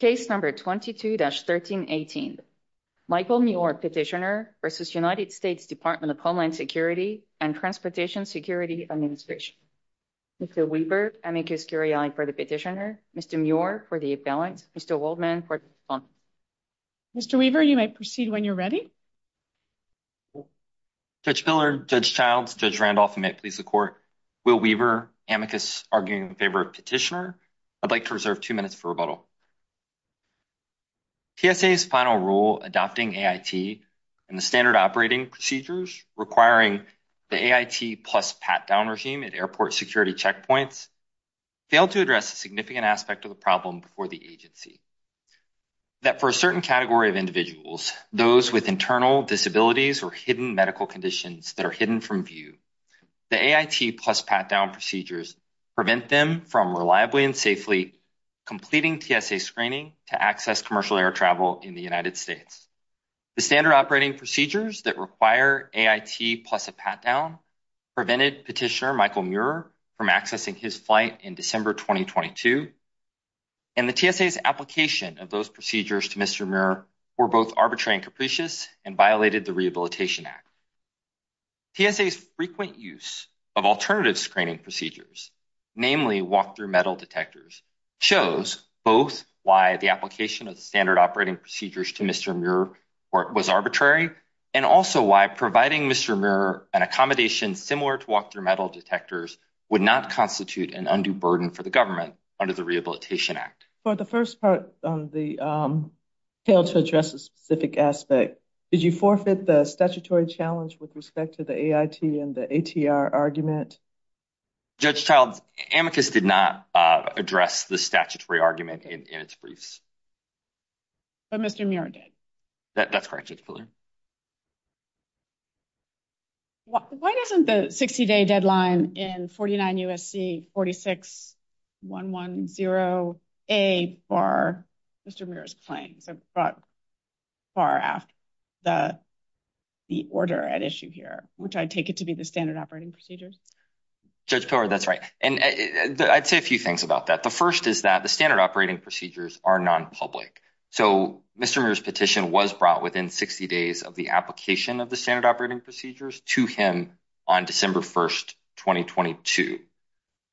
Case number 22-1318 Michael Muir Petitioner v. United States Department of Homeland Security and Transportation Security Administration Mr. Weaver, amicus curiae for the petitioner, Mr. Muir for the appellant, Mr. Waldman for the defendant Mr. Weaver, you may proceed when you're ready Judge Miller, Judge Childs, Judge Randolph, and may it please the court, Will Weaver, amicus arguing in favor of petitioner, I'd like to reserve two minutes for rebuttal. TSA's final rule adopting AIT and the standard operating procedures requiring the AIT plus pat-down regime at airport security checkpoints failed to address a significant aspect of the problem before the agency. That for a certain category of individuals, those with internal disabilities or hidden medical conditions that are hidden from view, the AIT plus pat-down procedures prevent them from reliably and safely completing TSA screening to access commercial air travel in the United States. The standard operating procedures that require AIT plus a pat-down prevented petitioner Michael Muir from accessing his flight in December 2022 and the TSA's application of those procedures to Mr. Muir were both arbitrary and capricious and violated the Rehabilitation Act. TSA's frequent use of alternative screening procedures, namely walk-through metal detectors, shows both why the application of standard operating procedures to Mr. Muir was arbitrary and also why providing Mr. Muir an accommodation similar to walk-through metal detectors would not constitute an undue burden for the government under the Rehabilitation Act. For the first part on the fail to address a specific aspect, did you forfeit the statutory challenge with respect to the AIT and the ATR argument? Judge Childs, amicus did not address the statutory argument in its briefs. But Mr. Muir did. That's correct, Judge Fuller. Why isn't the 60-day deadline in 49 U.S.C. 46-110A bar Mr. Muir's claim? It's brought far after the order at issue here, which I take it to be the standard operating procedures. Judge Pillar, that's right. And I'd say a few things about that. The first is that the standard operating procedures are nonpublic. So Mr. Muir's petition was brought within 60 days of the application of the standard operating procedures to him on December 1st, 2022.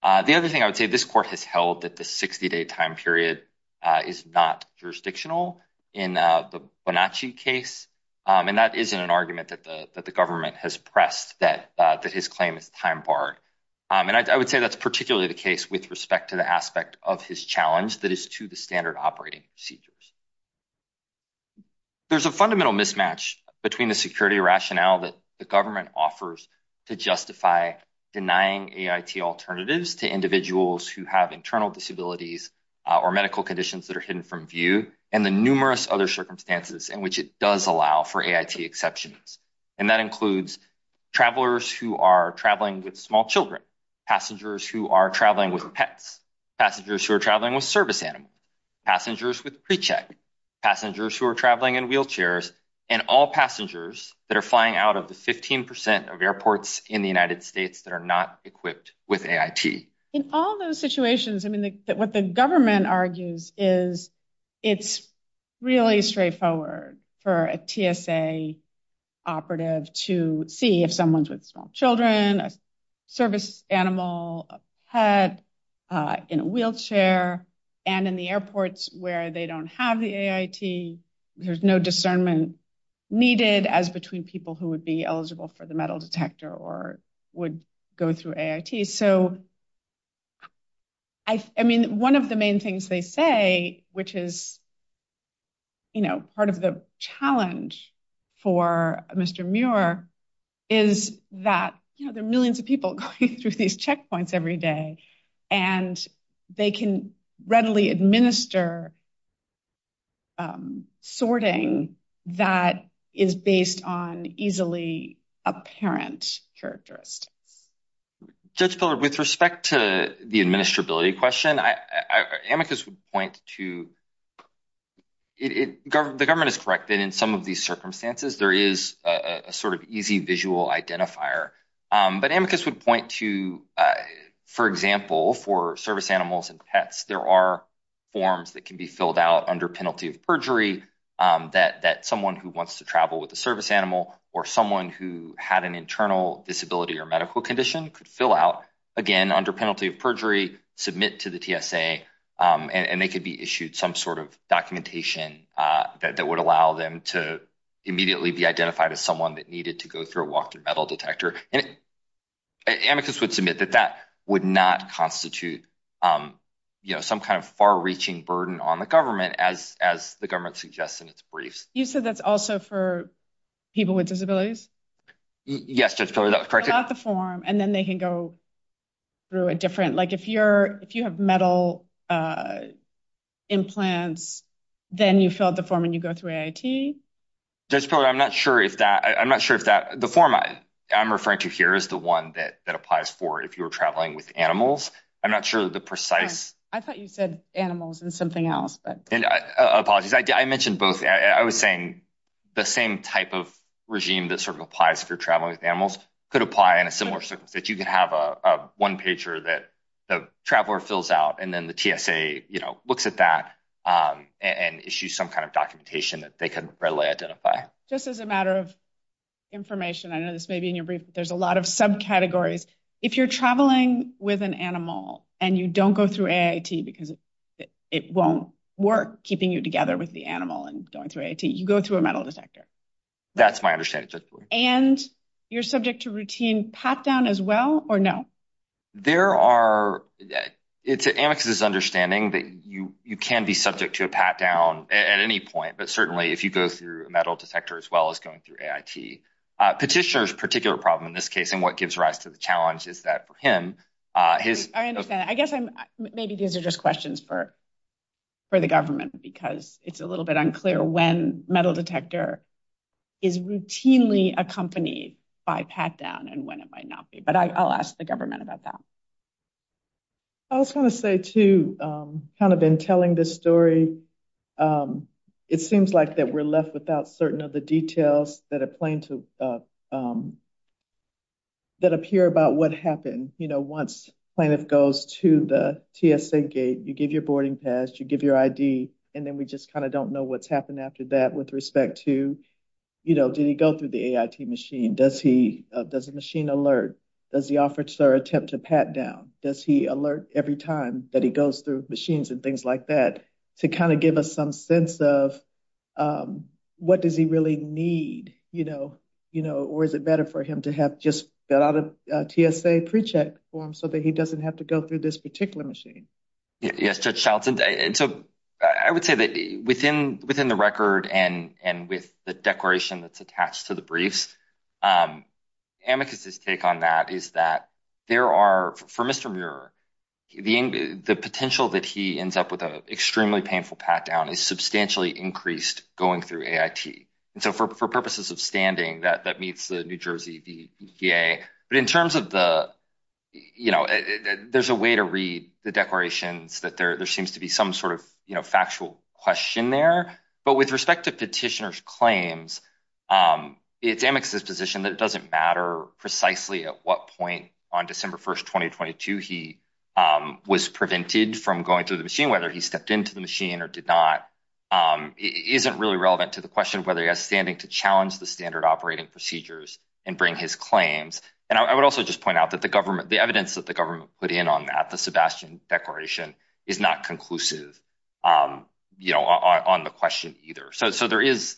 The other thing I would say, this court has held that the 60-day time period is not jurisdictional in the Bonacci case. And that isn't an argument that the government has pressed that his claim is time barred. And I would say that's particularly the case with respect to the aspect of his challenge that is to the standard operating procedures. There's a fundamental mismatch between the security rationale that the government offers to justify denying AIT alternatives to individuals who have internal disabilities or medical conditions that are hidden from view, and the numerous other circumstances in which it does allow for AIT exceptions. And that includes travelers who are traveling with small children, passengers who are traveling with pets, passengers who are traveling with service animals, passengers with pre-check, passengers who are traveling in wheelchairs, and all passengers that are flying out of the 15% of airports in the United States that are not equipped with AIT. In all those situations, I mean, what the government argues is it's really straightforward for a TSA operative to see if someone's with small children, a service animal, a pet, in a wheelchair, and in the airports where they don't have the AIT. There's no discernment needed as between people who would be eligible for the metal detector or would go through AIT. So, I mean, one of the main things they say, which is, you know, part of the challenge for Mr. Muir is that, you know, there are millions of people going through these checkpoints every day, and they can readily administer sorting that is based on easily apparent characteristics. Judge Pillard, with respect to the administrability question, amicus would point to – the government is correct that in some of these circumstances, there is a sort of easy visual identifier. But amicus would point to, for example, for service animals and pets, there are forms that can be filled out under penalty of perjury that someone who wants to travel with a service animal or someone who had an internal disability or medical condition could fill out, again, under penalty of perjury, submit to the TSA, and they could be issued some sort of documentation that would allow them to immediately be identified as someone that needed to go through a walk-through metal detector. And amicus would submit that that would not constitute some kind of far-reaching burden on the government, as the government suggests in its briefs. You said that's also for people with disabilities? Yes, Judge Pillard, that was correct. Fill out the form, and then they can go through a different – like, if you have metal implants, then you fill out the form and you go through AIT? Judge Pillard, I'm not sure if that – the form I'm referring to here is the one that applies for if you were traveling with animals. I'm not sure the precise – I thought you said animals and something else. Apologies. I mentioned both. I was saying the same type of regime that sort of applies if you're traveling with animals could apply in a similar circumstance. You could have a one-pager that the traveler fills out, and then the TSA looks at that and issues some kind of documentation that they could readily identify. Just as a matter of information, I know this may be in your brief, but there's a lot of subcategories. If you're traveling with an animal and you don't go through AIT because it won't work keeping you together with the animal and going through AIT, you go through a metal detector. That's my understanding, Judge Pillard. And you're subject to routine pat-down as well, or no? There are – it's Amicus's understanding that you can be subject to a pat-down at any point, but certainly if you go through a metal detector as well as going through AIT. Petitioner's particular problem in this case and what gives rise to the challenge is that for him, his – I understand. I guess I'm – maybe these are just questions for the government because it's a little bit unclear when metal detector is routinely accompanied by pat-down and when it might not be. But I'll ask the government about that. I was going to say, too, kind of in telling this story, it seems like that we're left without certain of the details that appear about what happened. You know, once plaintiff goes to the TSA gate, you give your boarding pass, you give your ID, and then we just kind of don't know what's happened after that with respect to, you know, did he go through the AIT machine? Does he – does the machine alert? Does the officer attempt to pat down? Does he alert every time that he goes through machines and things like that to kind of give us some sense of what does he really need, you know, or is it better for him to have just got out a TSA pre-check form so that he doesn't have to go through this particular machine? Yes, Judge Charlton. And so I would say that within the record and with the declaration that's attached to the briefs, amicus' take on that is that there are – for Mr. Muir, the potential that he ends up with an extremely painful pat-down is substantially increased going through AIT. And so for purposes of standing, that meets the New Jersey EPA. But in terms of the – you know, there's a way to read the declarations that there seems to be some sort of, you know, factual question there. But with respect to petitioner's claims, it's amicus' position that it doesn't matter precisely at what point on December 1st, 2022, he was prevented from going through the machine, whether he stepped into the machine or did not. It isn't really relevant to the question of whether he has standing to challenge the standard operating procedures and bring his claims. And I would also just point out that the government – the evidence that the government put in on that, the Sebastian declaration, is not conclusive, you know, on the question either. So there is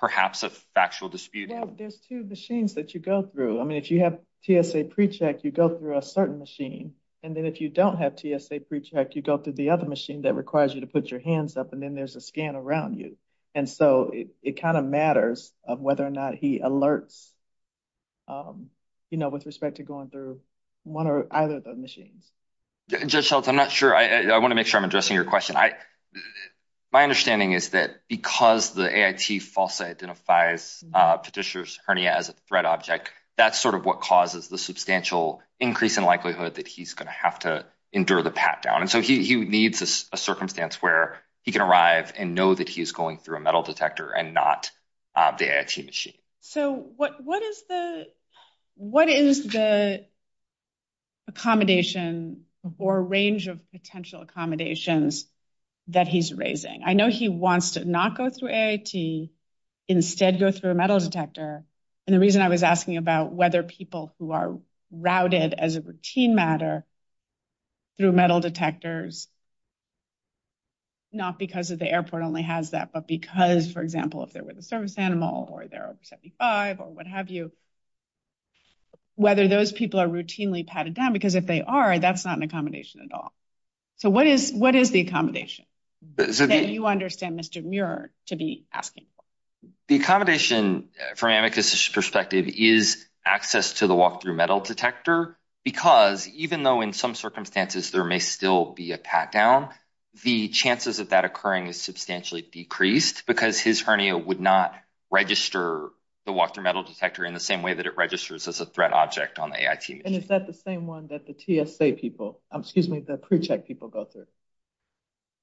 perhaps a factual dispute. There's two machines that you go through. I mean, if you have TSA pre-check, you go through a certain machine. And then if you don't have TSA pre-check, you go through the other machine that requires you to put your hands up, and then there's a scan around you. And so it kind of matters of whether or not he alerts, you know, with respect to going through one or either of those machines. Judge Shelton, I'm not sure. I want to make sure I'm addressing your question. My understanding is that because the AIT falsely identifies petitioner's hernia as a threat object, that's sort of what causes the substantial increase in likelihood that he's going to have to endure the pat-down. And so he needs a circumstance where he can arrive and know that he's going through a metal detector and not the AIT machine. So what is the accommodation or range of potential accommodations that he's raising? I know he wants to not go through AIT, instead go through a metal detector. And the reason I was asking about whether people who are routed as a routine matter through metal detectors, not because the airport only has that, but because, for example, if they're with a service animal or they're over 75 or what have you, whether those people are routinely patted down. Because if they are, that's not an accommodation at all. So what is the accommodation that you understand, Mr. Muir, to be asking for? The accommodation, from Amicus's perspective, is access to the walk-through metal detector. Because even though in some circumstances there may still be a pat-down, the chances of that occurring is substantially decreased because his hernia would not register the walk-through metal detector in the same way that it registers as a threat object on the AIT machine. And is that the same one that the TSA people, excuse me, the pre-check people go through?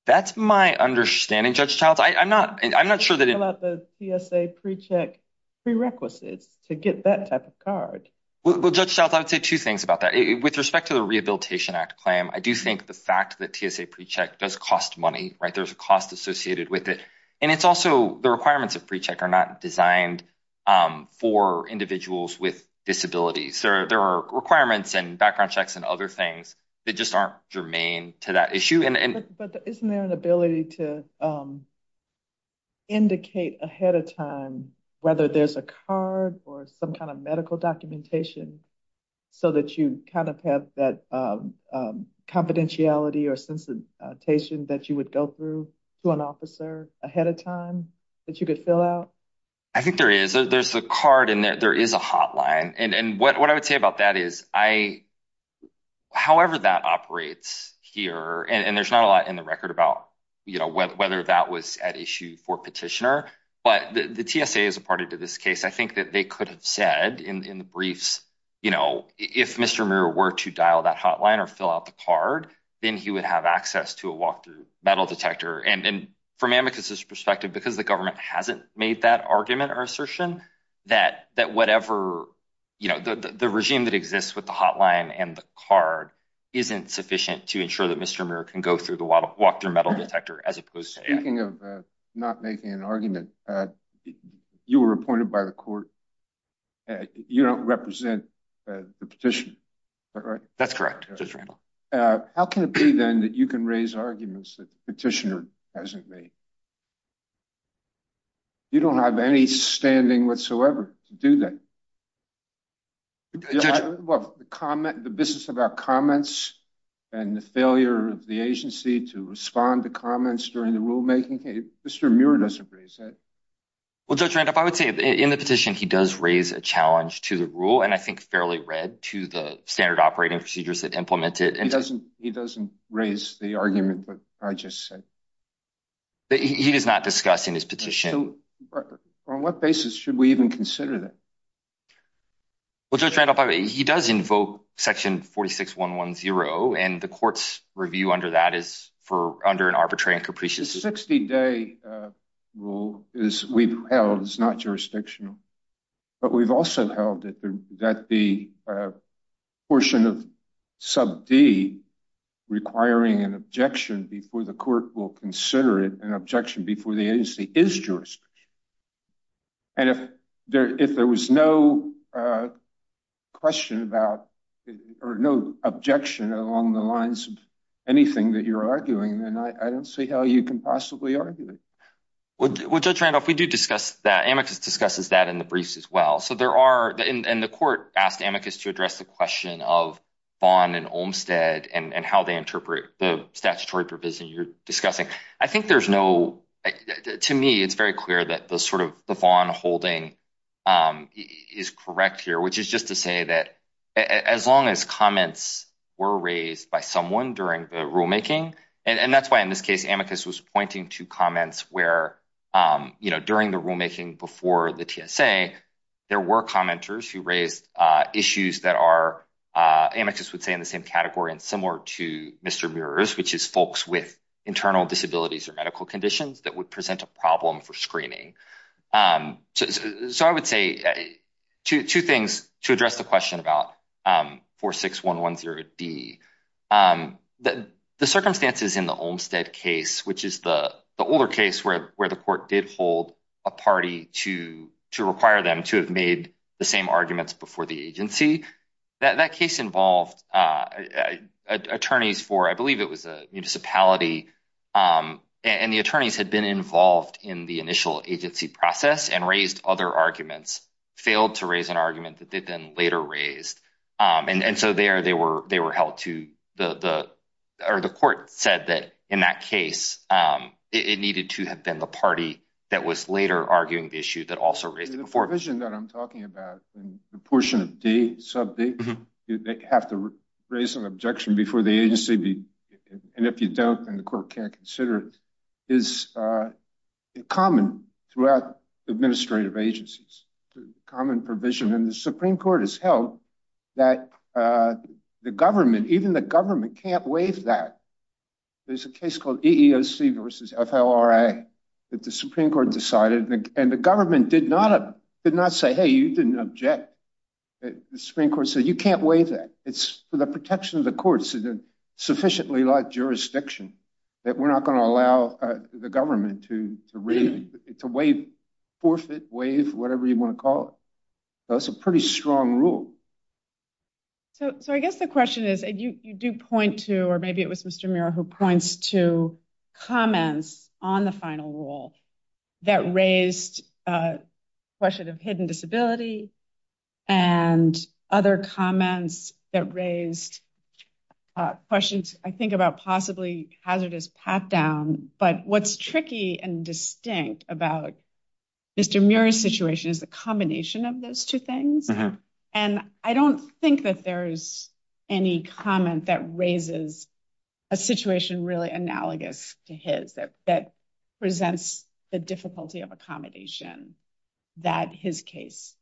That's my understanding, Judge Childs. I'm not sure that it… …the TSA pre-check prerequisites to get that type of card. Well, Judge Childs, I would say two things about that. With respect to the Rehabilitation Act claim, I do think the fact that TSA pre-check does cost money, right? There's a cost associated with it. And it's also the requirements of pre-check are not designed for individuals with disabilities. There are requirements and background checks and other things that just aren't germane to that issue. But isn't there an ability to indicate ahead of time whether there's a card or some kind of medical documentation so that you kind of have that confidentiality or sensitization that you would go through to an officer ahead of time that you could fill out? I think there is. There's a card and there is a hotline. And what I would say about that is I… …however that operates here, and there's not a lot in the record about, you know, whether that was at issue for petitioner, but the TSA is a party to this case. I think that they could have said in the briefs, you know, if Mr. Muir were to dial that hotline or fill out the card, then he would have access to a walk-through metal detector. And from Amicus's perspective, because the government hasn't made that argument or assertion, that whatever, you know, the regime that exists with the hotline and the card isn't sufficient to ensure that Mr. Muir can go through the walk-through metal detector as opposed to… Speaking of not making an argument, you were appointed by the court. You don't represent the petitioner. That's correct, Judge Randall. How can it be, then, that you can raise arguments that the petitioner hasn't made? You don't have any standing whatsoever to do that. Judge Randall? Well, the business about comments and the failure of the agency to respond to comments during the rulemaking, Mr. Muir doesn't raise that. Well, Judge Randall, I would say in the petition he does raise a challenge to the rule and I think fairly read to the standard operating procedures that implement it. He doesn't raise the argument that I just said. He is not discussing his petition. So on what basis should we even consider that? Well, Judge Randall, he does invoke section 46110, and the court's review under that is under an arbitrary and capricious… The 60-day rule we've held is not jurisdictional, but we've also held that the portion of sub D requiring an objection before the court will consider it an objection before the agency is jurisdictional. And if there was no question about or no objection along the lines of anything that you're arguing, then I don't see how you can possibly argue it. Well, Judge Randall, we do discuss that. Amicus discusses that in the briefs as well. So there are – and the court asked Amicus to address the question of Vaughn and Olmstead and how they interpret the statutory provision you're discussing. I think there's no – to me, it's very clear that the sort of – the Vaughn holding is correct here, which is just to say that as long as comments were raised by someone during the rulemaking –– issues that are, Amicus would say, in the same category and similar to Mr. Muir's, which is folks with internal disabilities or medical conditions that would present a problem for screening. So I would say two things to address the question about 46110D. The circumstances in the Olmstead case, which is the older case where the court did hold a party to require them to have made the same arguments before the agency. That case involved attorneys for – I believe it was a municipality, and the attorneys had been involved in the initial agency process and raised other arguments, failed to raise an argument that they then later raised. And so there they were held to – or the court said that in that case, it needed to have been the party that was later arguing the issue that also raised it before. The provision that I'm talking about in the portion of D, sub D, they have to raise an objection before the agency, and if you don't, then the court can't consider it, is common throughout administrative agencies. Common provision, and the Supreme Court has held that the government – even the government can't waive that. There's a case called EEOC versus FLRA that the Supreme Court decided, and the government did not say, hey, you didn't object. The Supreme Court said, you can't waive that. It's for the protection of the court. It's a sufficiently light jurisdiction that we're not going to allow the government to waive, forfeit, waive, whatever you want to call it. That's a pretty strong rule. So I guess the question is, you do point to – or maybe it was Mr. Muir who points to comments on the final rule that raised a question of hidden disability and other comments that raised questions, I think, about possibly hazardous pat-down. But what's tricky and distinct about Mr. Muir's situation is the combination of those two things. And I don't think that there's any comment that raises a situation really analogous to his that presents the difficulty of accommodation that his case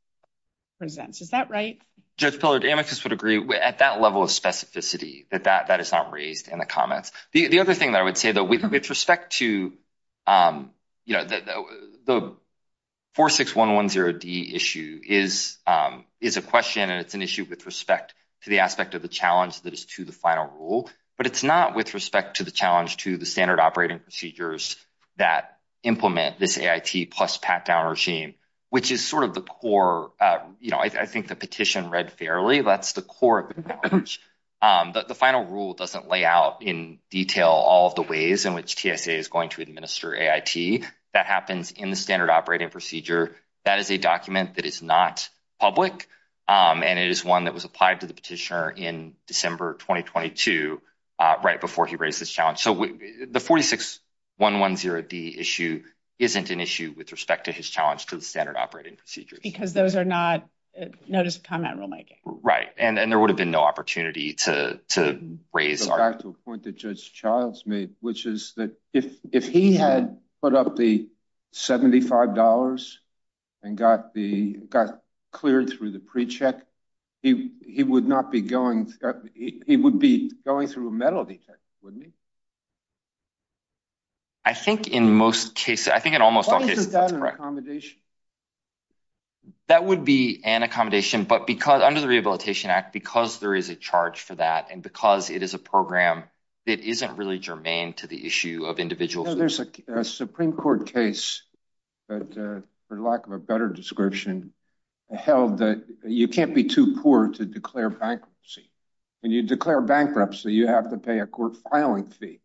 presents. Is that right? Judge Pillard, amicus would agree at that level of specificity that that is not raised in the comments. The other thing that I would say, though, with respect to – the 46110D issue is a question and it's an issue with respect to the aspect of the challenge that is to the final rule. But it's not with respect to the challenge to the standard operating procedures that implement this AIT plus pat-down regime, which is sort of the core – I think the petition read fairly. That's the core of the challenge. The final rule doesn't lay out in detail all of the ways in which TSA is going to administer AIT. That happens in the standard operating procedure. That is a document that is not public, and it is one that was applied to the petitioner in December 2022 right before he raised this challenge. So the 46110D issue isn't an issue with respect to his challenge to the standard operating procedures. Because those are not notice of comment rulemaking. Right, and there would have been no opportunity to raise – To go back to a point that Judge Childs made, which is that if he had put up the $75 and got cleared through the pre-check, he would not be going – he would be going through a metal detector, wouldn't he? I think in most cases – I think in almost all cases, that's correct. Why isn't that an accommodation? That would be an accommodation, but under the Rehabilitation Act, because there is a charge for that and because it is a program, it isn't really germane to the issue of individual fees. There's a Supreme Court case that, for lack of a better description, held that you can't be too poor to declare bankruptcy. When you declare bankruptcy, you have to pay a court filing fee.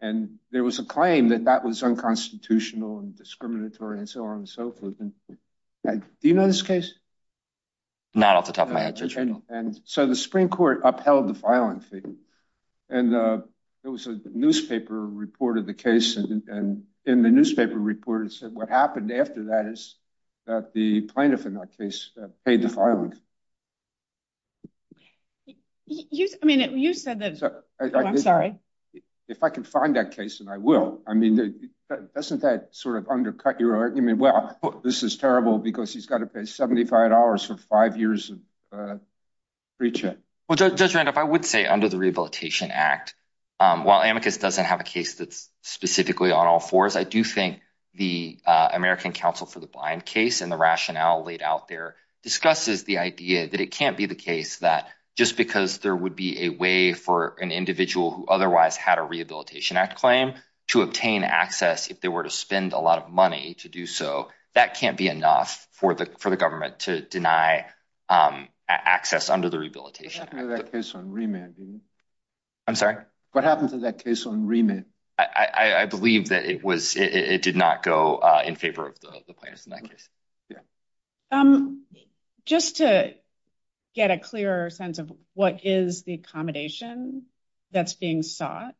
And there was a claim that that was unconstitutional and discriminatory and so on and so forth. Do you know this case? Not off the top of my head, Judge Reynolds. So the Supreme Court upheld the filing fee. And there was a newspaper report of the case, and in the newspaper report, it said what happened after that is that the plaintiff in that case paid the filing fee. You said that – I'm sorry. If I can find that case, then I will. I mean, doesn't that sort of undercut your argument? Well, this is terrible because he's got to pay $75 for five years of free check. Well, Judge Randolph, I would say under the Rehabilitation Act, while Amicus doesn't have a case that's specifically on all fours, I do think the American Council for the Blind case and the rationale laid out there discusses the idea that it can't be the case that just because there would be a way for an individual who otherwise had a Rehabilitation Act claim to obtain access if they were to spend a lot of money to do so, that can't be enough for the government to deny access under the Rehabilitation Act. What happened to that case on remit? I'm sorry? What happened to that case on remit? I believe that it was – it did not go in favor of the plaintiff in that case. Just to get a clearer sense of what is the accommodation that's being sought,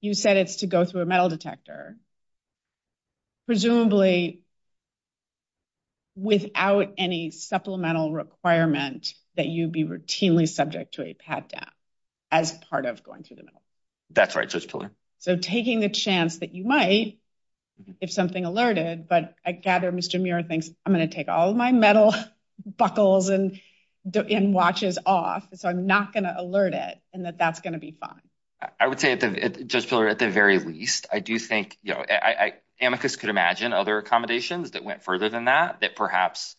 you said it's to go through a metal detector, presumably without any supplemental requirement that you'd be routinely subject to a pat-down as part of going through the metal. That's right, Judge Pillar. So taking the chance that you might, if something alerted, but I gather Mr. Muir thinks, I'm going to take all of my metal buckles and watches off, so I'm not going to alert it and that that's going to be fine. I would say, Judge Pillar, at the very least, I do think, you know, amicus could imagine other accommodations that went further than that, that perhaps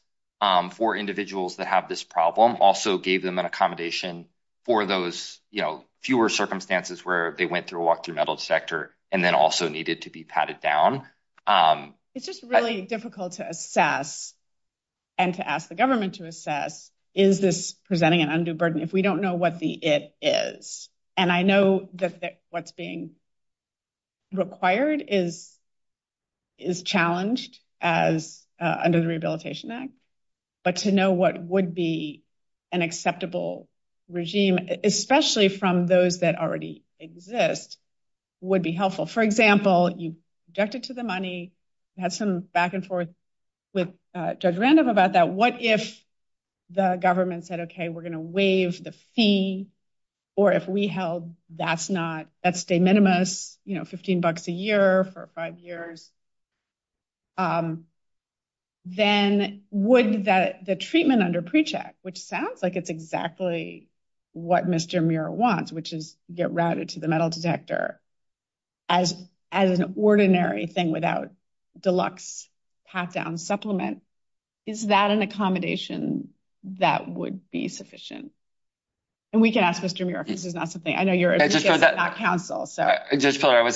for individuals that have this problem also gave them an accommodation for those, you know, fewer circumstances where they went through a walk-through metal detector and then also needed to be patted down. It's just really difficult to assess and to ask the government to assess is this presenting an undue burden if we don't know what the it is. And I know that what's being required is challenged as under the Rehabilitation Act, but to know what would be an acceptable regime, especially from those that already exist, would be helpful. For example, you objected to the money, had some back and forth with Judge Randolph about that. What if the government said, OK, we're going to waive the fee or if we held that's not, that's de minimis, you know, 15 bucks a year for five years? Then would that the treatment under pre-check, which sounds like it's exactly what Mr. Muir wants, which is get routed to the metal detector as as an ordinary thing without deluxe pat-down supplement, is that an accommodation that would be sufficient? And we can ask Mr. Muir if this is not something I know you're not counsel, so I was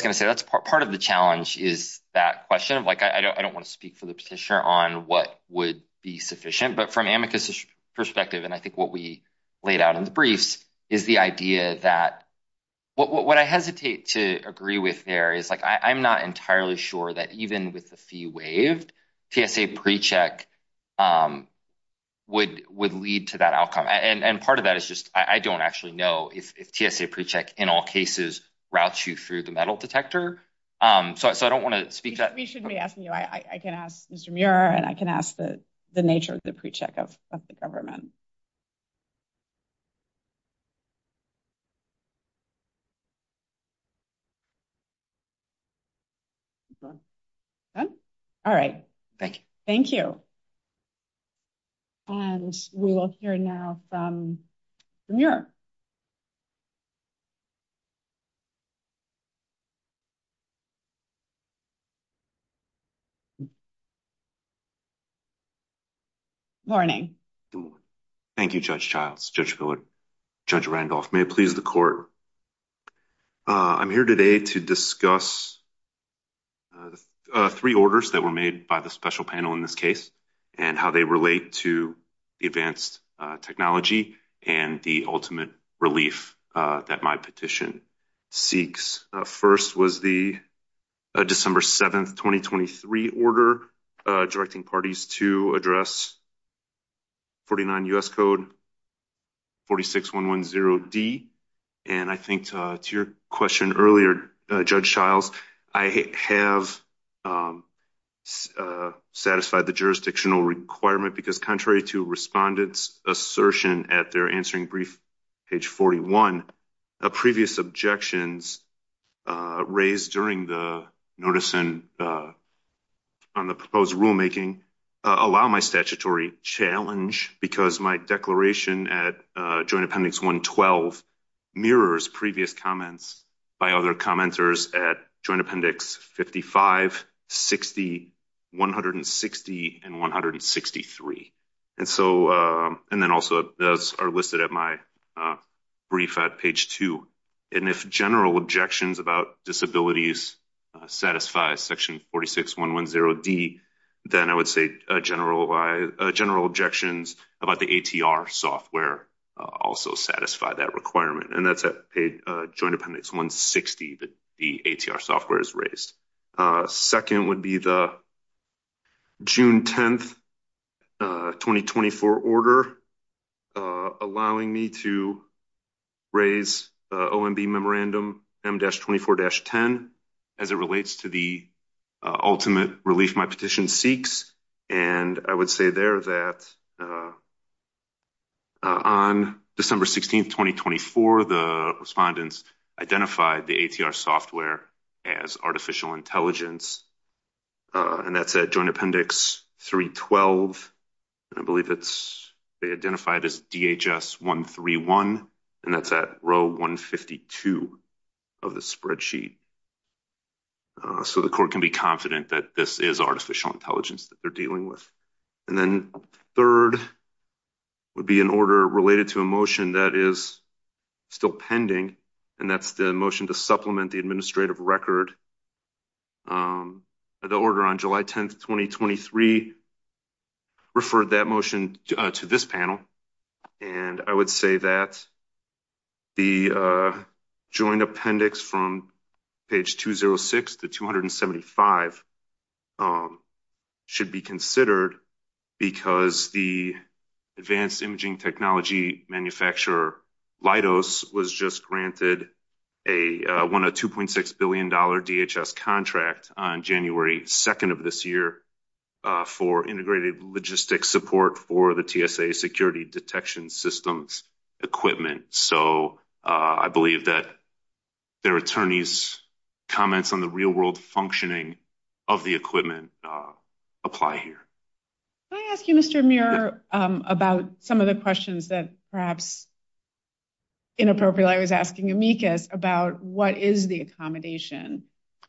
going to say that's part of the challenge is that question of, like, I don't want to speak for the petitioner on what would be sufficient. But from amicus perspective, and I think what we laid out in the briefs is the idea that what I hesitate to agree with there is, like, I'm not entirely sure that even with the fee waived, TSA pre-check would would lead to that outcome. And part of that is just I don't actually know if TSA pre-check in all cases routes you through the metal detector. So I don't want to speak to that. We shouldn't be asking you. I can ask Mr. Muir and I can ask the nature of the pre-check of the government. All right. Thank you. Thank you. And we will hear now from Muir. Morning. Thank you, Judge Childs, Judge Miller, Judge Randolph. May it please the court. I'm here today to discuss three orders that were made by the special panel in this case and how they relate to the advanced technology and the ultimate relief that my petition seeks. First was the December 7th, 2023 order directing parties to address 49 U.S. Code 46110D. And I think to your question earlier, Judge Childs, I have satisfied the jurisdictional requirement because contrary to respondents assertion at their answering brief page 41, previous objections raised during the notice on the proposed rulemaking allow my statutory challenge because my declaration at Joint Appendix 112 mirrors previous comments by other commenters at Joint Appendix 55, 60, 160, and 163. And then also those are listed at my brief at page 2. And if general objections about disabilities satisfy section 46110D, then I would say general objections about the ATR software also satisfy that requirement. And that's at Joint Appendix 160 that the ATR software is raised. Second would be the June 10th, 2024 order allowing me to raise OMB memorandum M-24-10 as it relates to the ultimate relief my petition seeks. And I would say there that on December 16th, 2024, the respondents identified the ATR software as artificial intelligence. And that's at Joint Appendix 312. And I believe it's identified as DHS-131. And that's at row 152 of the spreadsheet. So the court can be confident that this is artificial intelligence that they're dealing with. And then third would be an order related to a motion that is still pending. And that's the motion to supplement the administrative record. The order on July 10th, 2023 referred that motion to this panel. And I would say that the Joint Appendix from page 206 to 275 should be considered because the advanced imaging technology manufacturer, Leidos, was just granted a $102.6 billion DHS contract on January 2nd of this year for integrated logistic support for the TSA security detection systems equipment. So I believe that their attorneys' comments on the real-world functioning of the equipment apply here. Can I ask you, Mr. Muir, about some of the questions that perhaps inappropriately I was asking Amicus about what is the accommodation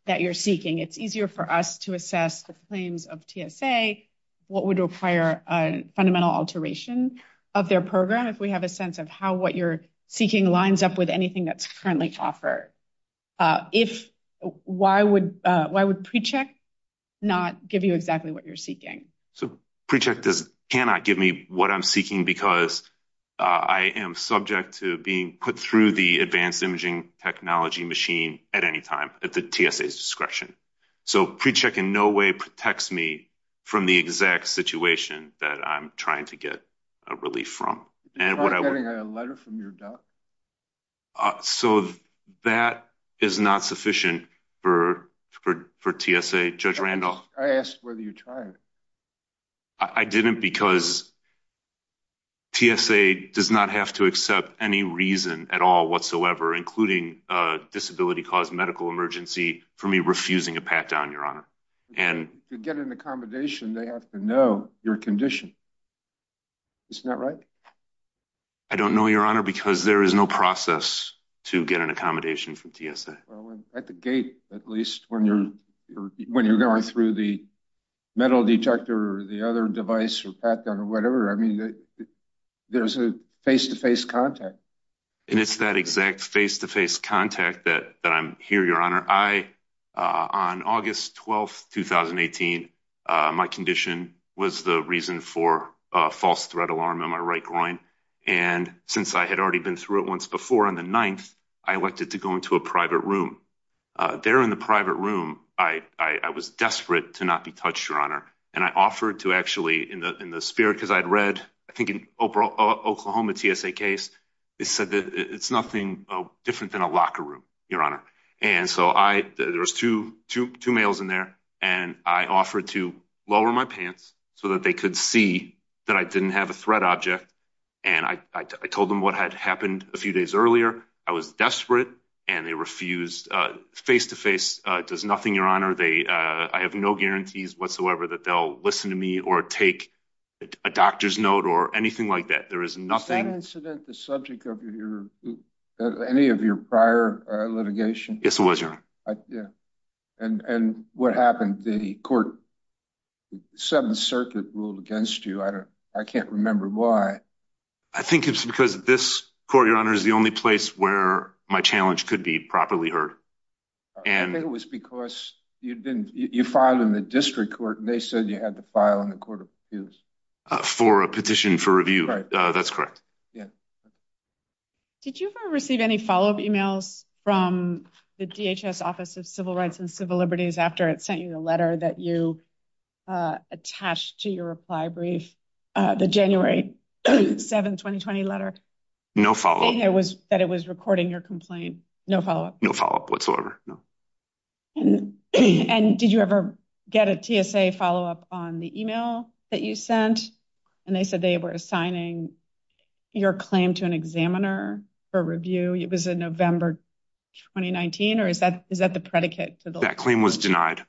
that you're seeking? It's easier for us to assess the claims of TSA, what would require a fundamental alteration of their program, if we have a sense of how what you're seeking lines up with anything that's currently offered. Why would PreCheck not give you exactly what you're seeking? So PreCheck cannot give me what I'm seeking because I am subject to being put through the advanced imaging technology machine at any time at the TSA's discretion. So PreCheck in no way protects me from the exact situation that I'm trying to get relief from. Am I getting a letter from your doc? So that is not sufficient for TSA. I asked whether you tried. I didn't because TSA does not have to accept any reason at all whatsoever, including a disability-caused medical emergency, for me refusing a pat-down, Your Honor. To get an accommodation, they have to know your condition. Isn't that right? I don't know, Your Honor, because there is no process to get an accommodation from TSA. At the gate, at least, when you're going through the metal detector or the other device or pat-down or whatever, I mean, there's a face-to-face contact. And it's that exact face-to-face contact that I'm here, Your Honor. On August 12, 2018, my condition was the reason for a false threat alarm in my right groin. And since I had already been through it once before on the 9th, I elected to go into a private room. There in the private room, I was desperate to not be touched, Your Honor. And I offered to actually, in the spirit, because I'd read, I think, an Oklahoma TSA case. It said that it's nothing different than a locker room, Your Honor. And so there was two males in there, and I offered to lower my pants so that they could see that I didn't have a threat object. And I told them what had happened a few days earlier. I was desperate, and they refused face-to-face. It does nothing, Your Honor. I have no guarantees whatsoever that they'll listen to me or take a doctor's note or anything like that. Is that incident the subject of any of your prior litigation? Yes, it was, Your Honor. And what happened? The 7th Circuit ruled against you. I can't remember why. I think it's because this court, Your Honor, is the only place where my challenge could be properly heard. I think it was because you filed in the district court, and they said you had to file in the court of appeals. For a petition for review. That's correct. Yeah. Did you ever receive any follow-up emails from the DHS Office of Civil Rights and Civil Liberties after it sent you the letter that you attached to your reply brief, the January 7, 2020 letter? No follow-up. That it was recording your complaint. No follow-up? No follow-up whatsoever, no. And did you ever get a TSA follow-up on the email that you sent? And they said they were assigning your claim to an examiner for review. It was in November 2019, or is that the predicate? That claim was denied.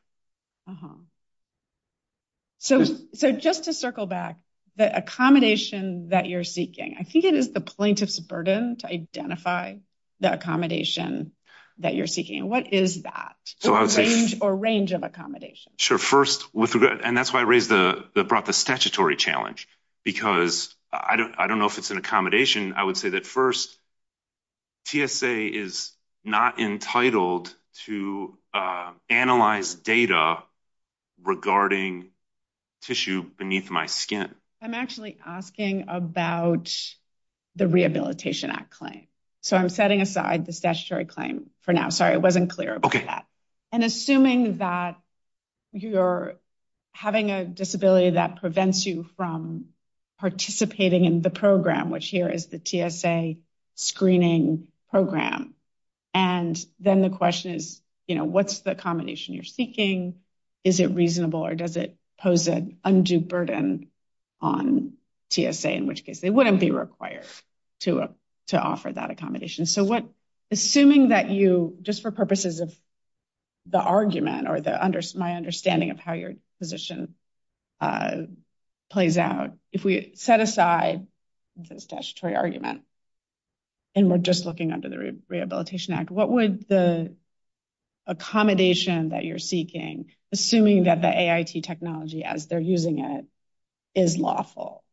So just to circle back, the accommodation that you're seeking, I think it is the plaintiff's burden to identify the accommodation that you're seeking. What is that? Or range of accommodation. And that's why I brought the statutory challenge, because I don't know if it's an accommodation. I would say that first, TSA is not entitled to analyze data regarding tissue beneath my skin. I'm actually asking about the Rehabilitation Act claim. So I'm setting aside the statutory claim for now. Sorry, it wasn't clear about that. And assuming that you're having a disability that prevents you from participating in the program, which here is the TSA screening program. And then the question is, you know, what's the accommodation you're seeking? Is it reasonable or does it pose an undue burden on TSA? In which case they wouldn't be required to offer that accommodation. Assuming that you, just for purposes of the argument or my understanding of how your position plays out, if we set aside the statutory argument and we're just looking under the Rehabilitation Act, what would the accommodation that you're seeking, assuming that the AIT technology as they're using it is lawful,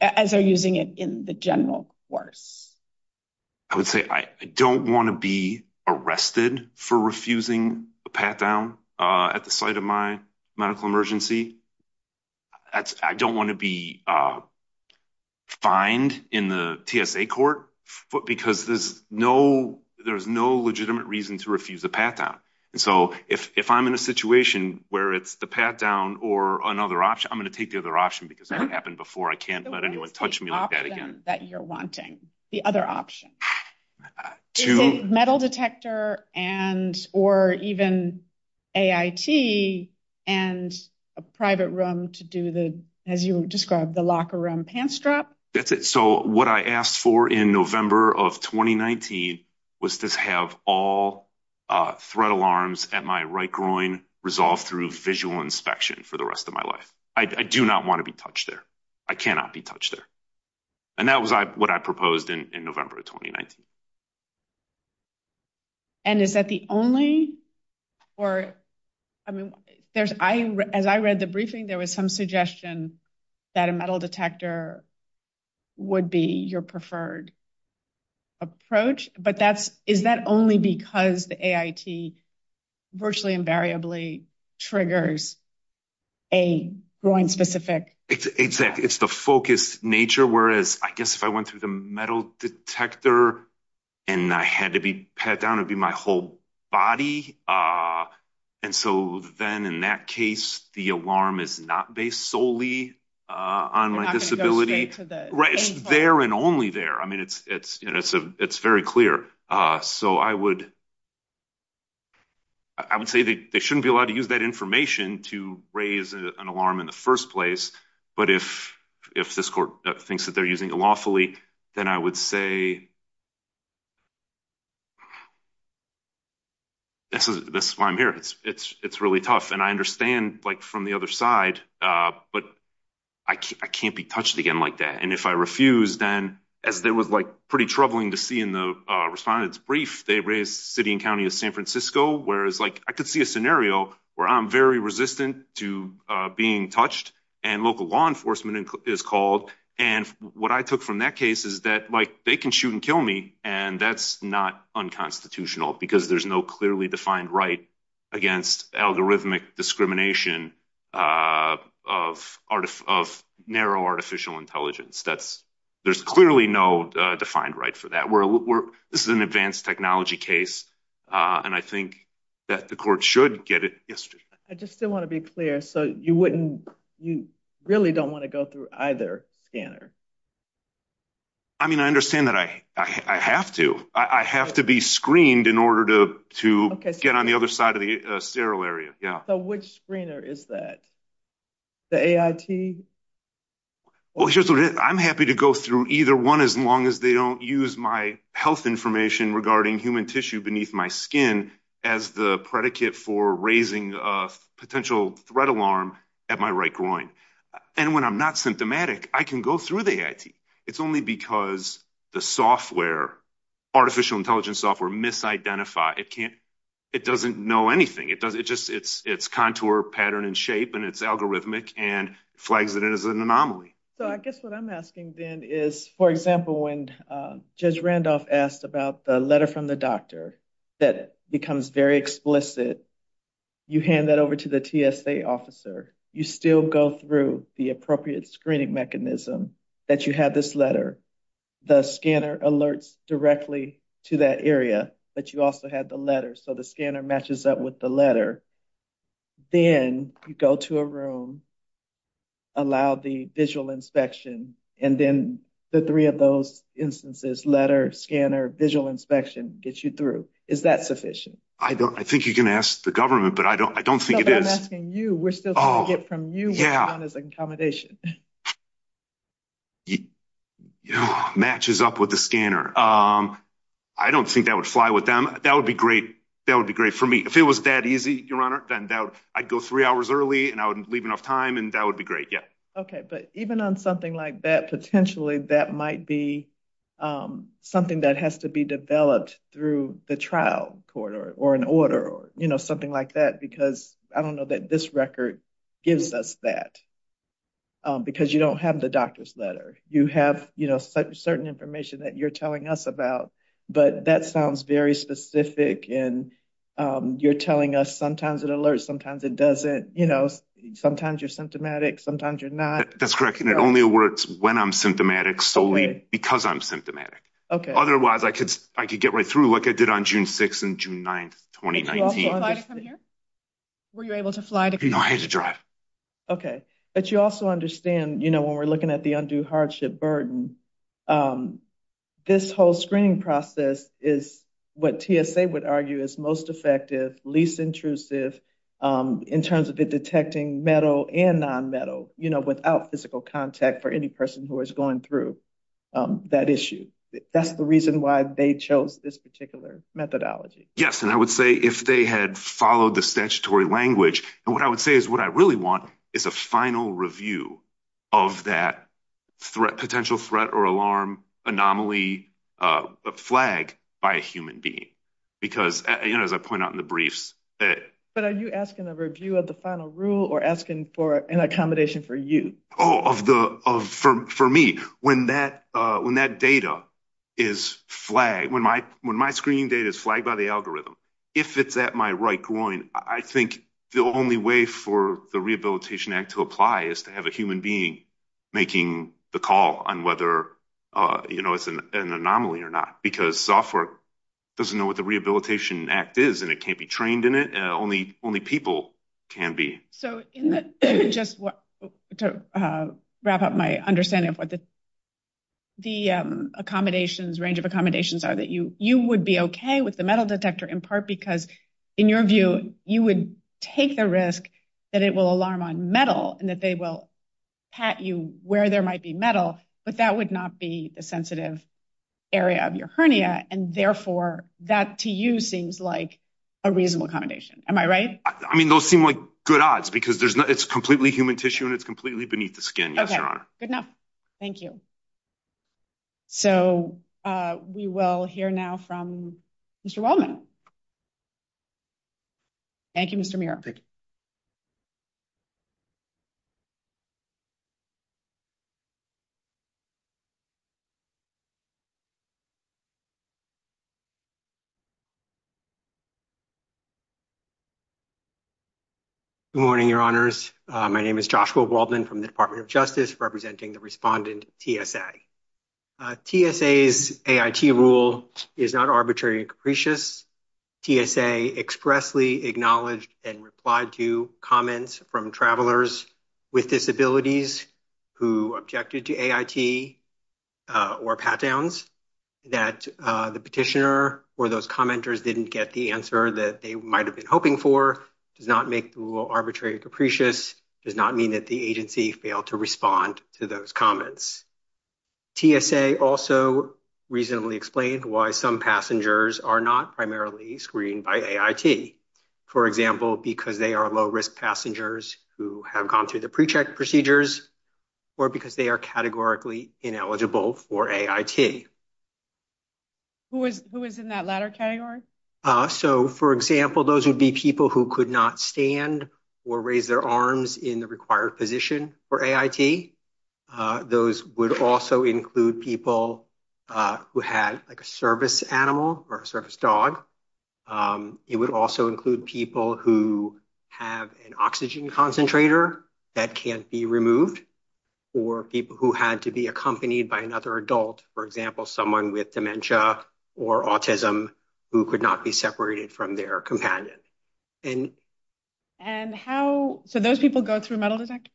as they're using it in the general course? I would say I don't want to be arrested for refusing a pat-down at the site of my medical emergency. I don't want to be fined in the TSA court because there's no legitimate reason to refuse a pat-down. So if I'm in a situation where it's the pat-down or another option, I'm going to take the other option because it happened before. I can't let anyone touch me like that again. The other option. Is it metal detector and or even AIT and a private room to do the, as you described, the locker room pant strap? That's it. So what I asked for in November of 2019 was to have all threat alarms at my right groin resolved through visual inspection for the rest of my life. I do not want to be touched there. I cannot be touched there. And that was what I proposed in November of 2019. And is that the only or, I mean, as I read the briefing, there was some suggestion that a metal detector would be your preferred approach. But is that only because the AIT virtually invariably triggers a groin specific? Exactly. It's the focus nature. Whereas, I guess if I went through the metal detector and I had to be pat down, it would be my whole body. And so then in that case, the alarm is not based solely on my disability. It's there and only there. I mean, it's very clear. So I would. I would say they shouldn't be allowed to use that information to raise an alarm in the first place. But if if this court thinks that they're using it lawfully, then I would say. That's why I'm here. It's it's it's really tough. And I understand, like, from the other side, but I can't be touched again like that. And if I refuse, then as there was like pretty troubling to see in the respondents brief, they raised city and county of San Francisco. Whereas like I could see a scenario where I'm very resistant to being touched and local law enforcement is called. And what I took from that case is that, like, they can shoot and kill me. And that's not unconstitutional because there's no clearly defined right against algorithmic discrimination of art of narrow artificial intelligence. That's there's clearly no defined right for that. We're we're this is an advanced technology case. And I think that the court should get it. I just still want to be clear. So you wouldn't you really don't want to go through either scanner. I mean, I understand that I have to I have to be screened in order to to get on the other side of the sterile area. Yeah. So which screener is that the A.I.T.? Well, here's what I'm happy to go through either one as long as they don't use my health information regarding human tissue beneath my skin as the predicate for raising a potential threat alarm at my right groin. And when I'm not symptomatic, I can go through the A.I.T. It's only because the software artificial intelligence software misidentify. It can't it doesn't know anything. It does. It just it's its contour pattern and shape. And it's algorithmic and flags that it is an anomaly. So I guess what I'm asking, then, is, for example, when Judge Randolph asked about the letter from the doctor that becomes very explicit, you hand that over to the TSA officer. You still go through the appropriate screening mechanism that you had this letter. The scanner alerts directly to that area, but you also had the letter. So the scanner matches up with the letter. Then you go to a room. Allow the visual inspection and then the three of those instances, letter scanner, visual inspection gets you through. Is that sufficient? I don't I think you can ask the government, but I don't I don't think it is. I'm asking you. We're still from you. Yeah. As an accommodation. You know, matches up with the scanner. I don't think that would fly with them. That would be great. That would be great for me. If it was that easy, your honor, then I'd go three hours early and I would leave enough time and that would be great. Yeah. OK. But even on something like that, potentially, that might be something that has to be developed through the trial court or an order or, you know, that this record gives us that because you don't have the doctor's letter. You have, you know, certain information that you're telling us about. But that sounds very specific. And you're telling us sometimes it alerts, sometimes it doesn't. You know, sometimes you're symptomatic, sometimes you're not. That's correct. And it only works when I'm symptomatic solely because I'm symptomatic. OK. Otherwise, I could I could get right through like I did on June 6th and June 9th, 2019. Were you able to fly to go ahead to drive? OK. But you also understand, you know, when we're looking at the undue hardship burden, this whole screening process is what TSA would argue is most effective, least intrusive in terms of detecting metal and nonmetal, you know, without physical contact for any person who is going through that issue. That's the reason why they chose this particular methodology. Yes. And I would say if they had followed the statutory language. And what I would say is what I really want is a final review of that threat, potential threat or alarm anomaly flag by a human being. Because, you know, as I point out in the briefs. But are you asking a review of the final rule or asking for an accommodation for you? For me, when that when that data is flagged, when my when my screening data is flagged by the algorithm, if it's at my right groin, I think the only way for the Rehabilitation Act to apply is to have a human being making the call on whether, you know, it's an anomaly or not, because software doesn't know what the Rehabilitation Act is and it can't be trained in it. Only only people can be. So just to wrap up my understanding of what the. The accommodations range of accommodations are that you you would be OK with the metal detector, in part because, in your view, you would take the risk that it will alarm on metal and that they will pat you where there might be metal. But that would not be the sensitive area of your hernia. And therefore, that to you seems like a reasonable accommodation. Am I right? I mean, those seem like good odds because there's it's completely human tissue and it's completely beneath the skin. OK, good enough. Thank you. So we will hear now from Mr. Wellman. Thank you, Mr. Good morning, your honors. My name is Joshua Waldman from the Department of Justice representing the respondent TSA. TSA's rule is not arbitrary and capricious. TSA expressly acknowledged and replied to comments from travelers with disabilities who objected to A.I. Or pat downs that the petitioner or those commenters didn't get the answer that they might have been hoping for does not make the rule arbitrary. Capricious does not mean that the agency failed to respond to those comments. TSA also reasonably explained why some passengers are not primarily screened by I.T., for example, because they are low risk passengers who have gone through the pre-check procedures or because they are categorically ineligible for a I.T. Who is who is in that latter category? So, for example, those would be people who could not stand or raise their arms in the required position for a I.T. Those would also include people who had like a service animal or a service dog. It would also include people who have an oxygen concentrator that can't be removed or people who had to be accompanied by another adult, for example, someone with dementia or autism who could not be separated from their companion. And and how so those people go through a metal detector.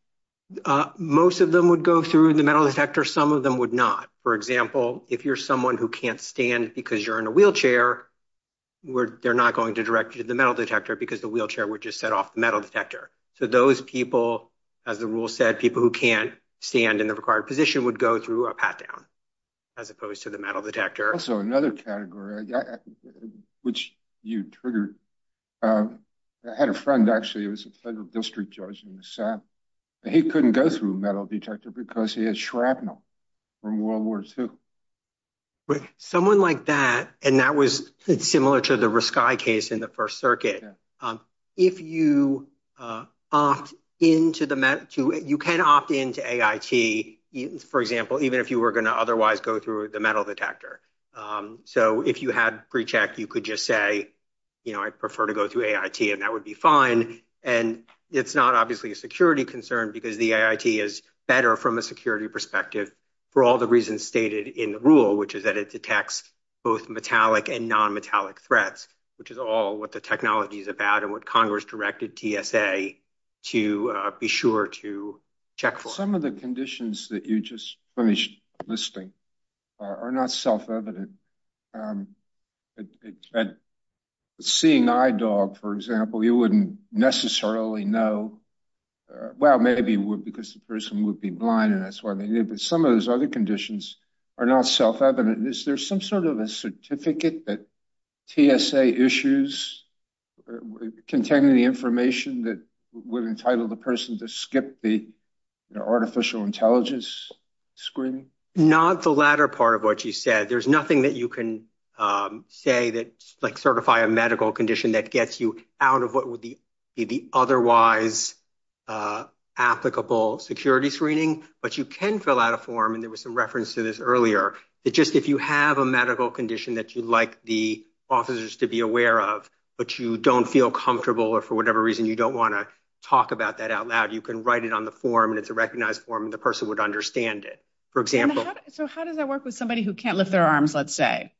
Most of them would go through the metal detector. Some of them would not. For example, if you're someone who can't stand because you're in a wheelchair where they're not going to direct you to the metal detector because the wheelchair would just set off the metal detector. So those people, as the rule said, people who can't stand in the required position would go through a pat down as opposed to the metal detector. So another category which you triggered had a friend actually was a federal district judge in the South. He couldn't go through a metal detector because he had shrapnel from World War Two. Someone like that. And that was similar to the sky case in the First Circuit. If you opt into the map to it, you can opt into a I.T., for example, even if you were going to otherwise go through the metal detector. So if you had pre-check, you could just say, you know, I prefer to go through a I.T. and that would be fine. And it's not obviously a security concern because the I.T. is better from a security perspective for all the reasons stated in the rule, which is that it detects both metallic and nonmetallic threats, which is all what the technology is about and what Congress directed TSA to be sure to check for. Some of the conditions that you just finished listing are not self-evident. And seeing eye dog, for example, you wouldn't necessarily know. Well, maybe because the person would be blind and that's why they knew. But some of those other conditions are not self-evident. Is there some sort of a certificate that TSA issues containing the information that would entitle the person to skip the artificial intelligence screening? Not the latter part of what you said. There's nothing that you can say that like certify a medical condition that gets you out of what would be the otherwise applicable security screening. But you can fill out a form. And there was some reference to this earlier, that just if you have a medical condition that you'd like the officers to be aware of, but you don't feel comfortable or for whatever reason you don't want to talk about that out loud, you can write it on the form and it's a recognized form and the person would understand it, for example. So how does that work with somebody who can't lift their arms, let's say.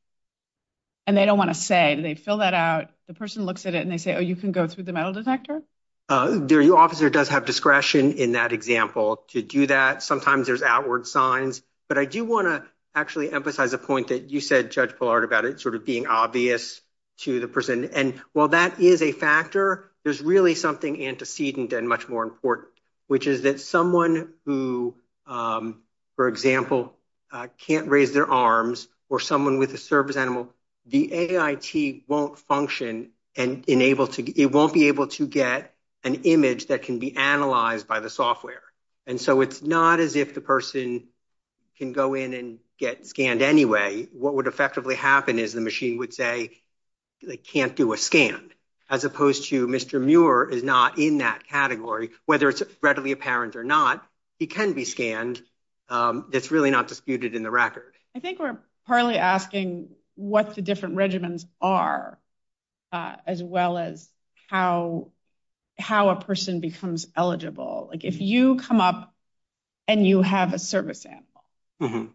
And they don't want to say they fill that out. The person looks at it and they say, oh, you can go through the metal detector. Their officer does have discretion in that example to do that. Sometimes there's outward signs. But I do want to actually emphasize a point that you said, Judge Pollard, about it sort of being obvious to the person. And while that is a factor, there's really something antecedent and much more important, which is that someone who, for example, can't raise their arms or someone with a service animal, the AIT won't function and it won't be able to get an image that can be analyzed by the software. And so it's not as if the person can go in and get scanned anyway. What would effectively happen is the machine would say they can't do a scan, as opposed to Mr. Muir is not in that category, whether it's readily apparent or not. It can be scanned. It's really not disputed in the record. I think we're partly asking what the different regimens are, as well as how how a person becomes eligible. If you come up and you have a service animal,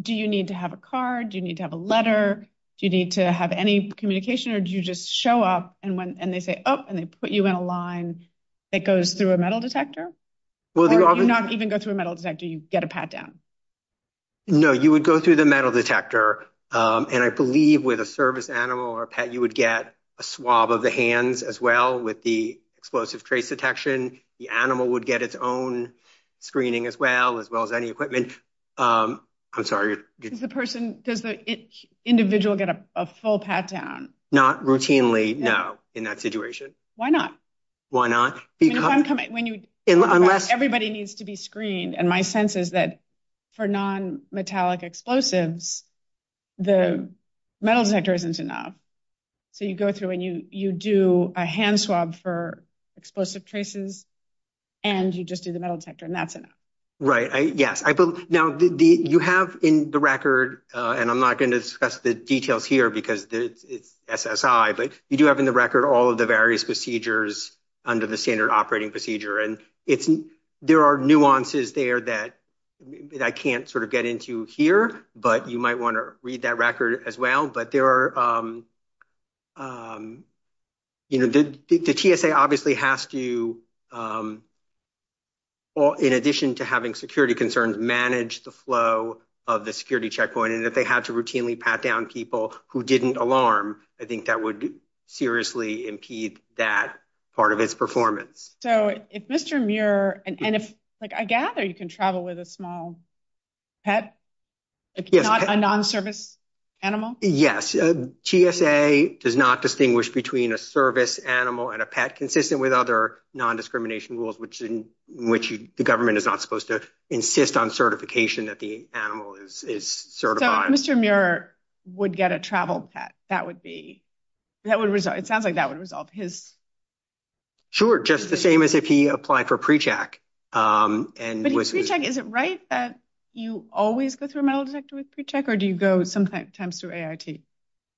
do you need to have a card? Do you need to have a letter? Do you need to have any communication or do you just show up? And when and they say, oh, and they put you in a line that goes through a metal detector? Will they not even go through a metal detector? You get a pat down. No, you would go through the metal detector. And I believe with a service animal or a pet, you would get a swab of the hands as well with the explosive trace detection. The animal would get its own screening as well, as well as any equipment. I'm sorry. The person does the individual get a full pat down? Not routinely. No. In that situation. Why not? Why not? When you unless everybody needs to be screened. And my sense is that for nonmetallic explosives, the metal detector isn't enough. So you go through and you you do a hand swab for explosive traces. And you just do the metal detector and that's it. Right. Yes. Now, you have in the record and I'm not going to discuss the details here because it's SSI, but you do have in the record all of the various procedures under the standard operating procedure. And it's there are nuances there that I can't sort of get into here. But you might want to read that record as well. But there are. You know, the TSA obviously has to. Well, in addition to having security concerns, manage the flow of the security checkpoint and if they had to routinely pat down people who didn't alarm, I think that would seriously impede that part of its performance. So if Mr. Muir and if I gather you can travel with a small pet, a non-service animal. Yes. TSA does not distinguish between a service animal and a pet consistent with other non-discrimination rules, which in which the government is not supposed to insist on certification that the animal is certified. Mr. Muir would get a travel pet. That would be that would result. It sounds like that would resolve his. Sure. Just the same as if he applied for pre-check. And was pre-check. Is it right that you always go through a metal detector with pre-check or do you go sometimes through AIT?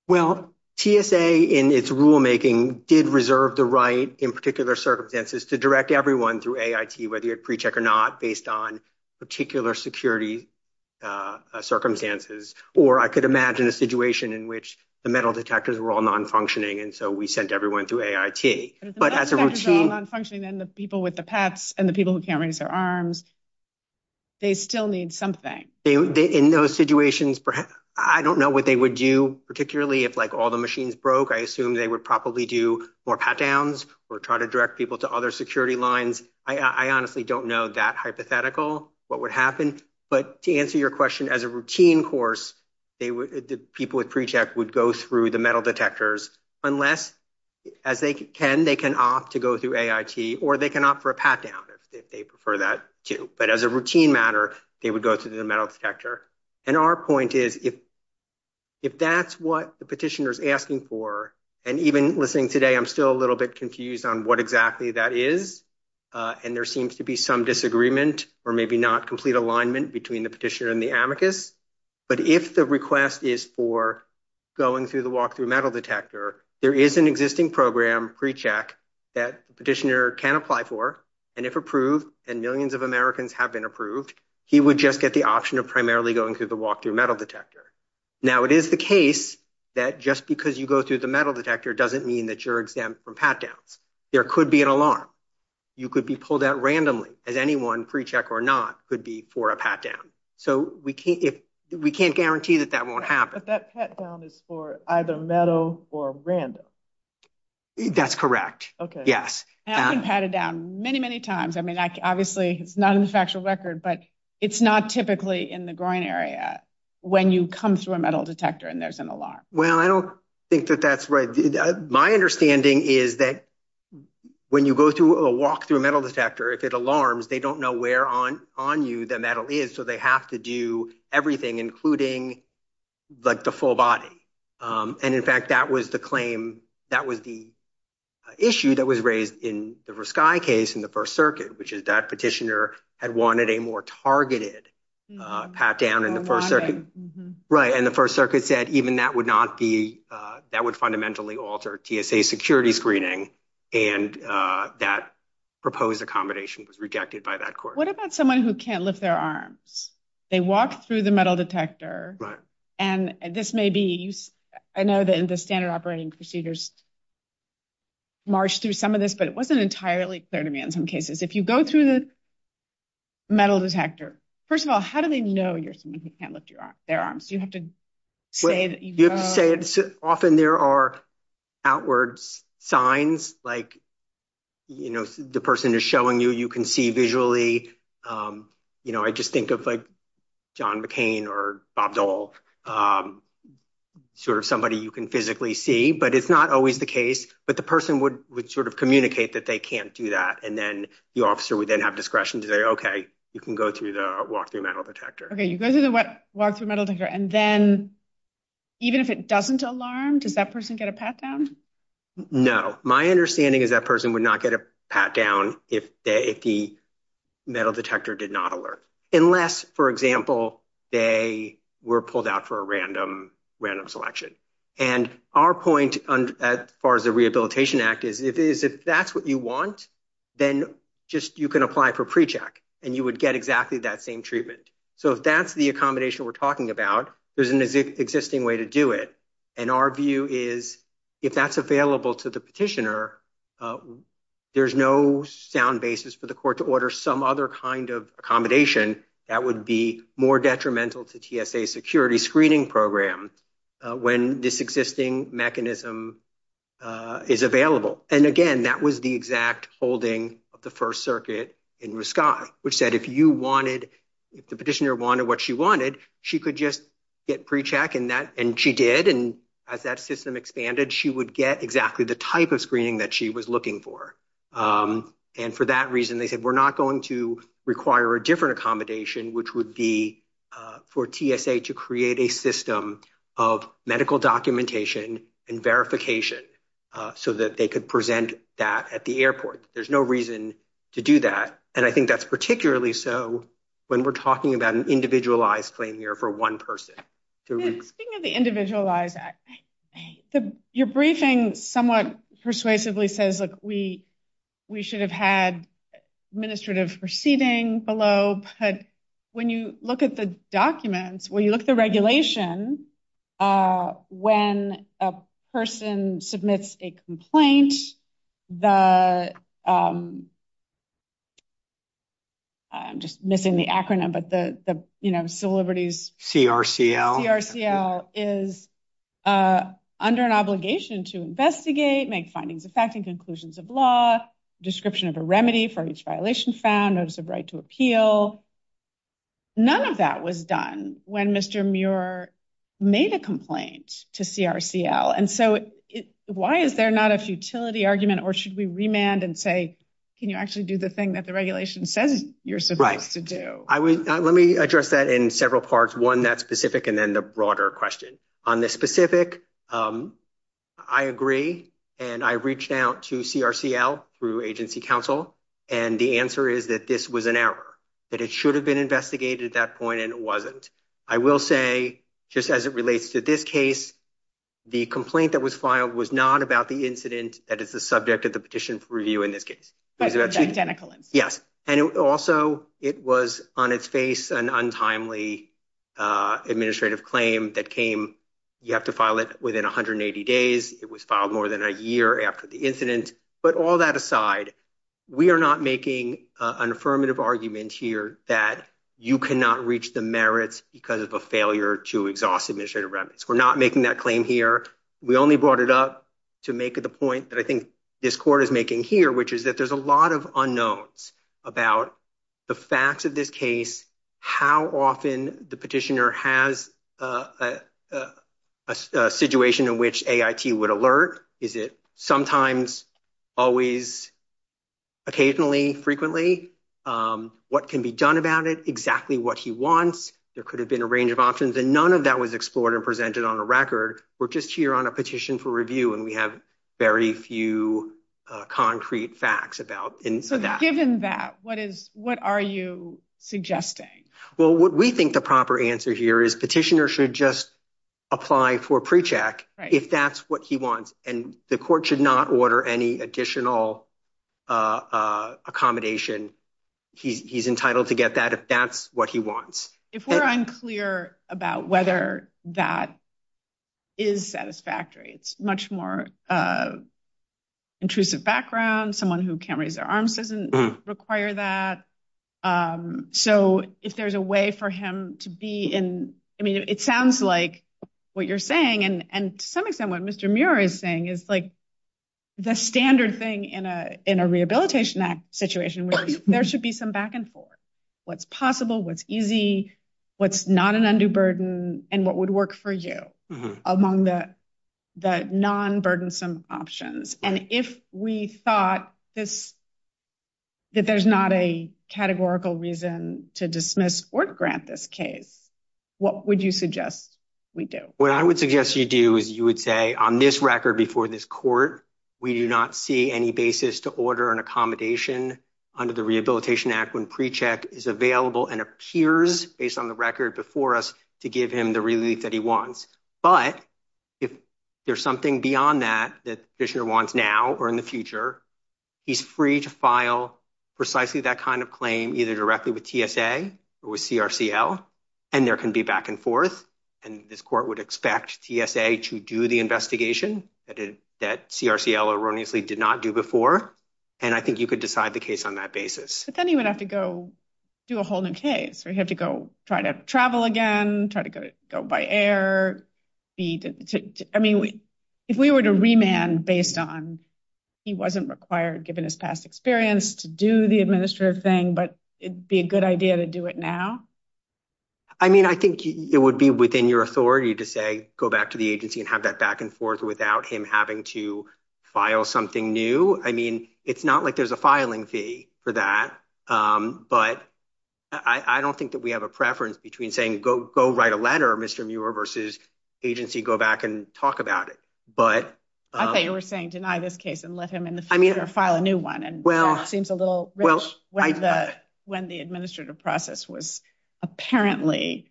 Well, TSA in its rulemaking did reserve the right in particular circumstances to direct everyone through AIT, whether you pre-check or not, based on particular security circumstances. Or I could imagine a situation in which the metal detectors were all non-functioning. And so we sent everyone through AIT. But as a routine. Non-functioning than the people with the pets and the people who can't raise their arms. They still need something in those situations. I don't know what they would do, particularly if like all the machines broke. I assume they would probably do more pat downs or try to direct people to other security lines. I honestly don't know that hypothetical what would happen. But to answer your question, as a routine course, people with pre-check would go through the metal detectors unless as they can, they can opt to go through AIT or they can opt for a pat down if they prefer that, too. But as a routine matter, they would go through the metal detector. And our point is, if if that's what the petitioner is asking for. And even listening today, I'm still a little bit confused on what exactly that is. And there seems to be some disagreement or maybe not complete alignment between the petitioner and the amicus. But if the request is for going through the walkthrough metal detector, there is an existing program pre-check that petitioner can apply for. And if approved and millions of Americans have been approved, he would just get the option of primarily going through the walkthrough metal detector. Now, it is the case that just because you go through the metal detector doesn't mean that you're exempt from pat downs. There could be an alarm. You could be pulled out randomly as anyone pre-check or not could be for a pat down. So we can't if we can't guarantee that that won't happen. But that pat down is for either metal or random. That's correct. OK, yes. And I've been patted down many, many times. I mean, obviously, it's not in the factual record, but it's not typically in the groin area when you come through a metal detector and there's an alarm. Well, I don't think that that's right. My understanding is that when you go through a walkthrough metal detector, if it alarms, they don't know where on on you the metal is. So they have to do everything, including like the full body. And in fact, that was the claim that was the issue that was raised in the sky case in the First Circuit, which is that petitioner had wanted a more targeted pat down in the first circuit. Right. And the First Circuit said even that would not be that would fundamentally alter TSA security screening. And that proposed accommodation was rejected by that court. What about someone who can't lift their arms? They walk through the metal detector. And this may be I know that the standard operating procedures. March through some of this, but it wasn't entirely clear to me in some cases, if you go through the metal detector. First of all, how do they know you're someone who can't lift their arms? You have to say you say often there are outwards signs like, you know, the person is showing you, you can see visually. You know, I just think of like John McCain or Bob Dole, sort of somebody you can physically see. But it's not always the case. But the person would would sort of communicate that they can't do that. And then the officer would then have discretion to say, OK, you can go through the walkthrough metal detector. And then even if it doesn't alarm, does that person get a pat down? No. My understanding is that person would not get a pat down if they if the metal detector did not alert. Unless, for example, they were pulled out for a random random selection. And our point as far as the Rehabilitation Act is, if that's what you want, then just you can apply for precheck and you would get exactly that same treatment. So if that's the accommodation we're talking about, there's an existing way to do it. And our view is if that's available to the petitioner, there's no sound basis for the court to order some other kind of accommodation. That would be more detrimental to TSA security screening program when this existing mechanism is available. And again, that was the exact holding of the First Circuit in RISC-I, which said if you wanted if the petitioner wanted what she wanted, she could just get precheck in that. And she did. And as that system expanded, she would get exactly the type of screening that she was looking for. And for that reason, they said we're not going to require a different accommodation, which would be for TSA to create a system of medical documentation and verification so that they could present that at the airport. There's no reason to do that. And I think that's particularly so when we're talking about an individualized claim here for one person. Speaking of the individualized act, your briefing somewhat persuasively says, look, we we should have had administrative proceeding below. But when you look at the documents, when you look at the regulation, when a person submits a complaint, the. I'm just missing the acronym, but the, you know, civil liberties CRCL is under an obligation to investigate, make findings, affecting conclusions of law, description of a remedy for each violation found notice of right to appeal. None of that was done when Mr. Muir made a complaint to CRCL. And so why is there not a futility argument or should we remand and say, can you actually do the thing that the regulation says you're supposed to do? I would let me address that in several parts, one that specific and then the broader question on this specific. I agree, and I reached out to CRCL through agency counsel, and the answer is that this was an error that it should have been investigated at that point. And it wasn't, I will say, just as it relates to this case, the complaint that was filed was not about the incident. That is the subject of the petition for review in this case. Yes. And also, it was on its face and untimely administrative claim that came. You have to file it within 180 days. It was filed more than a year after the incident. But all that aside, we are not making an affirmative argument here that you cannot reach the merits because of a failure to exhaust administrative remnants. We're not making that claim here. We only brought it up to make the point that I think this court is making here, which is that there's a lot of unknowns about the facts of this case. How often the petitioner has a situation in which A.I.T. would alert? Is it sometimes, always. Occasionally, frequently. What can be done about it? Exactly what he wants. There could have been a range of options and none of that was explored and presented on a record. We're just here on a petition for review and we have very few concrete facts about that. Given that, what is what are you suggesting? Well, what we think the proper answer here is petitioner should just apply for a pre-check if that's what he wants. And the court should not order any additional accommodation. He's entitled to get that if that's what he wants. If we're unclear about whether that is satisfactory, it's much more intrusive background. Someone who can't raise their arms doesn't require that. So if there's a way for him to be in, I mean, it sounds like what you're saying and to some extent what Mr. Muir is saying is like the standard thing in a in a rehabilitation act situation. There should be some back and forth what's possible, what's easy, what's not an undue burden and what would work for you among the non burdensome options. And if we thought this that there's not a categorical reason to dismiss or grant this case, what would you suggest we do? What I would suggest you do is you would say on this record before this court, we do not see any basis to order an accommodation under the Rehabilitation Act when pre-check is available and appears based on the record before us to give him the relief that he wants. But if there's something beyond that, that he wants now or in the future, he's free to file precisely that kind of claim either directly with TSA or CRCL. And there can be back and forth. And this court would expect TSA to do the investigation that CRCL erroneously did not do before. And I think you could decide the case on that basis. But then you would have to go do a whole new case or you have to go try to travel again, try to go by air. I mean, if we were to remand based on he wasn't required, given his past experience to do the administrative thing, but it'd be a good idea to do it now. I mean, I think it would be within your authority to say, go back to the agency and have that back and forth without him having to file something new. I mean, it's not like there's a filing fee for that, but I don't think that we have a preference between saying, go write a letter, Mr. Muir versus agency, go back and talk about it. But I thought you were saying, deny this case and let him in the future file a new one. And well, it seems a little when the when the administrative process was apparently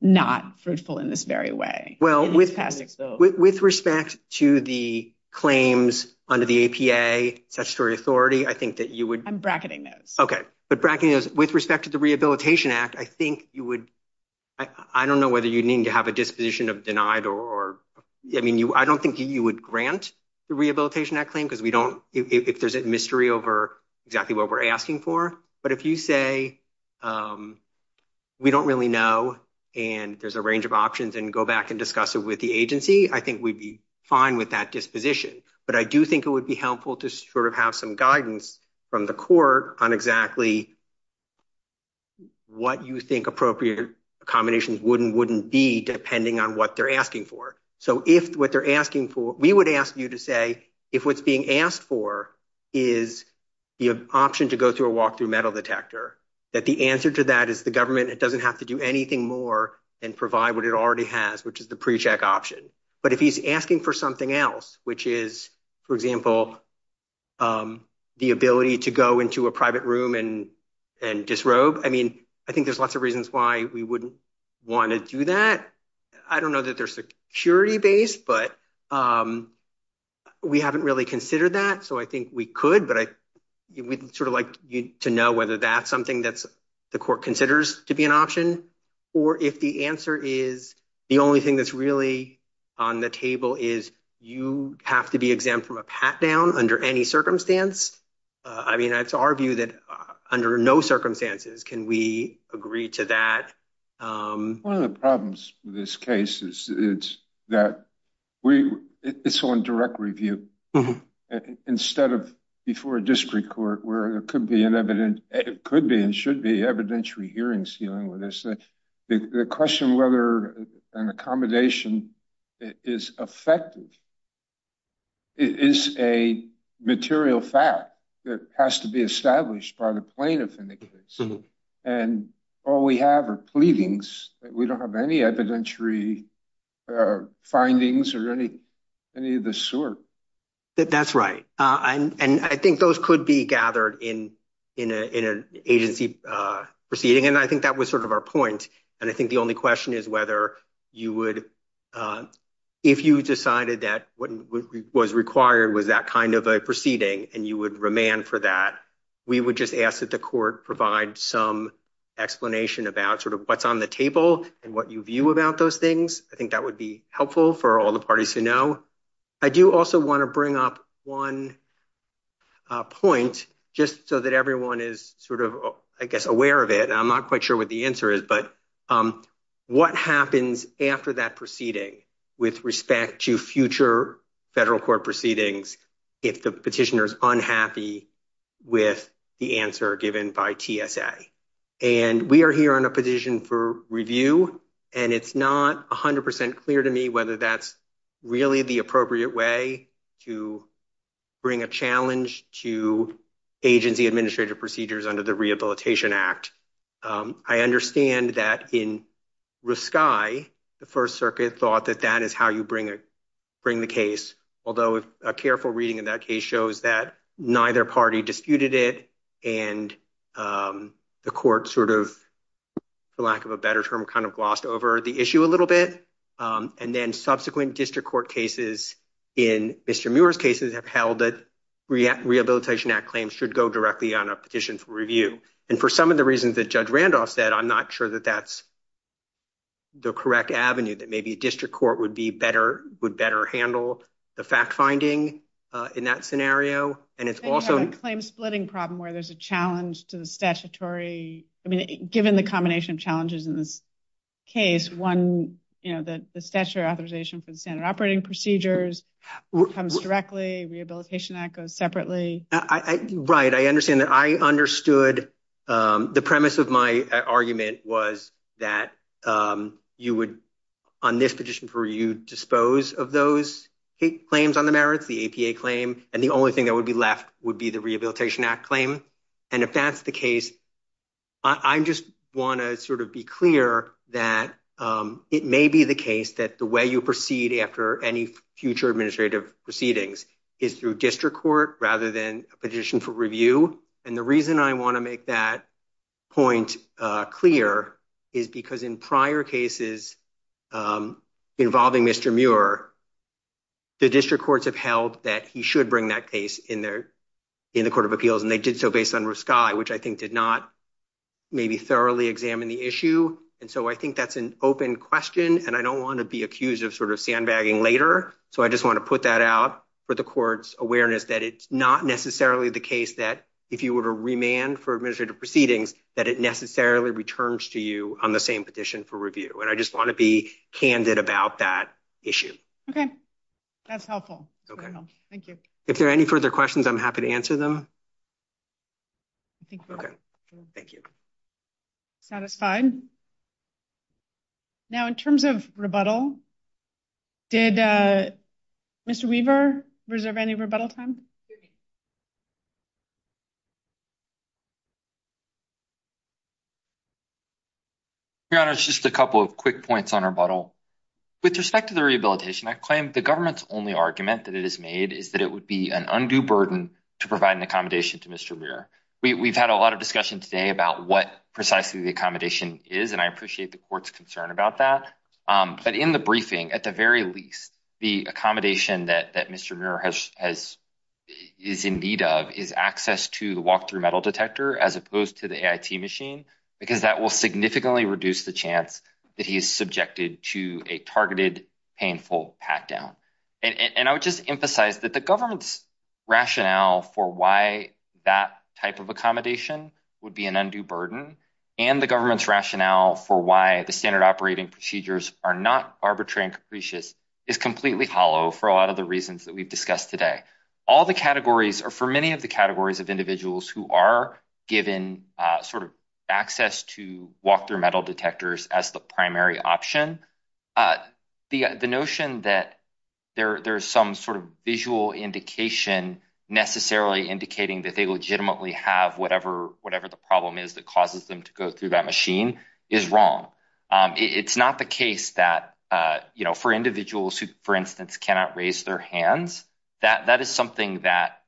not fruitful in this very way. Well, with with respect to the claims under the APA statutory authority, I think that you would. I'm bracketing this. Okay. But with respect to the Rehabilitation Act, I think you would. I don't know whether you need to have a disposition of denied or I mean, you I don't think you would grant the Rehabilitation Act claim because we don't if there's a mystery over exactly what we're asking for. But if you say we don't really know and there's a range of options and go back and discuss it with the agency, I think we'd be fine with that disposition. But I do think it would be helpful to sort of have some guidance from the court on exactly. What you think appropriate accommodations wouldn't wouldn't be depending on what they're asking for. So if what they're asking for, we would ask you to say if what's being asked for is the option to go through a walkthrough metal detector, that the answer to that is the government. It doesn't have to do anything more and provide what it already has, which is the precheck option. But if he's asking for something else, which is, for example, the ability to go into a private room and and disrobe. I mean, I think there's lots of reasons why we wouldn't want to do that. I don't know that they're security based, but we haven't really considered that. So I think we could. But I would sort of like to know whether that's something that's the court considers to be an option. Or if the answer is the only thing that's really on the table is you have to be exempt from a pat down under any circumstance. I mean, it's our view that under no circumstances can we agree to that. One of the problems with this case is it's that we it's on direct review instead of before a district court where it could be an evident. It could be and should be evidentiary hearings dealing with this question, whether an accommodation is effective. It is a material fact that has to be established by the plaintiff. And all we have are pleadings. We don't have any evidentiary findings or any any of the sort. That that's right. And I think those could be gathered in in an agency proceeding. And I think that was sort of our point. And I think the only question is whether you would if you decided that what was required was that kind of a proceeding and you would remand for that. We would just ask that the court provide some explanation about sort of what's on the table and what you view about those things. I think that would be helpful for all the parties to know. I do also want to bring up one point just so that everyone is sort of, I guess, aware of it. I'm not quite sure what the answer is, but what happens after that proceeding with respect to future federal court proceedings? If the petitioner is unhappy with the answer given by TSA and we are here on a petition for review and it's not 100 percent clear to me whether that's really the appropriate way to bring a challenge to agency administrative procedures under the Rehabilitation Act. I understand that in the first circuit thought that that is how you bring it. Bring the case, although a careful reading of that case shows that neither party disputed it. And the court sort of, for lack of a better term, kind of glossed over the issue a little bit. And then subsequent district court cases in Mr. Muir's cases have held that Rehabilitation Act claims should go directly on a petition for review. And for some of the reasons that Judge Randolph said, I'm not sure that that's the correct avenue that maybe a district court would be better, would better handle the fact finding in that scenario. And it's also a claim splitting problem where there's a challenge to the statutory. I mean, given the combination of challenges in this case, one, you know, that the statute authorization for the standard operating procedures comes directly. Rehabilitation Act goes separately. Right. And I understand that I understood the premise of my argument was that you would on this petition for you dispose of those claims on the merits, the APA claim. And the only thing that would be left would be the Rehabilitation Act claim. And if that's the case. I just want to sort of be clear that it may be the case that the way you proceed after any future administrative proceedings is through district court rather than a petition for review. And the reason I want to make that point clear is because in prior cases involving Mr. Muir. The district courts have held that he should bring that case in there in the court of appeals, and they did so based on sky, which I think did not maybe thoroughly examine the issue. And so I think that's an open question, and I don't want to be accused of sort of sandbagging later. So I just want to put that out for the court's awareness that it's not necessarily the case that if you were to remand for administrative proceedings that it necessarily returns to you on the same petition for review. And I just want to be candid about that issue. Okay, that's helpful. Thank you. If there are any further questions, I'm happy to answer them. Okay, thank you. Satisfied. Now, in terms of rebuttal, did Mr. Weaver reserve any rebuttal time? Your Honor, it's just a couple of quick points on our bottle. With respect to the rehabilitation, I claim the government's only argument that it is made is that it would be an undue burden to provide an accommodation to Mr. Muir. We've had a lot of discussion today about what precisely the accommodation is, and I appreciate the court's concern about that. But in the briefing, at the very least, the accommodation that Mr. Muir is in need of is access to the walk-through metal detector as opposed to the AIT machine, because that will significantly reduce the chance that he is subjected to a targeted painful pat-down. And I would just emphasize that the government's rationale for why that type of accommodation would be an undue burden and the government's rationale for why the standard operating procedures are not arbitrary and capricious is completely hollow for a lot of the reasons that we've discussed today. All the categories, or for many of the categories of individuals who are given sort of access to walk-through metal detectors as the primary option, the notion that there's some sort of visual indication necessarily indicating that they legitimately have whatever the problem is that causes them to go through that machine is wrong. It's not the case that, you know, for individuals who, for instance, cannot raise their hands, that is something that,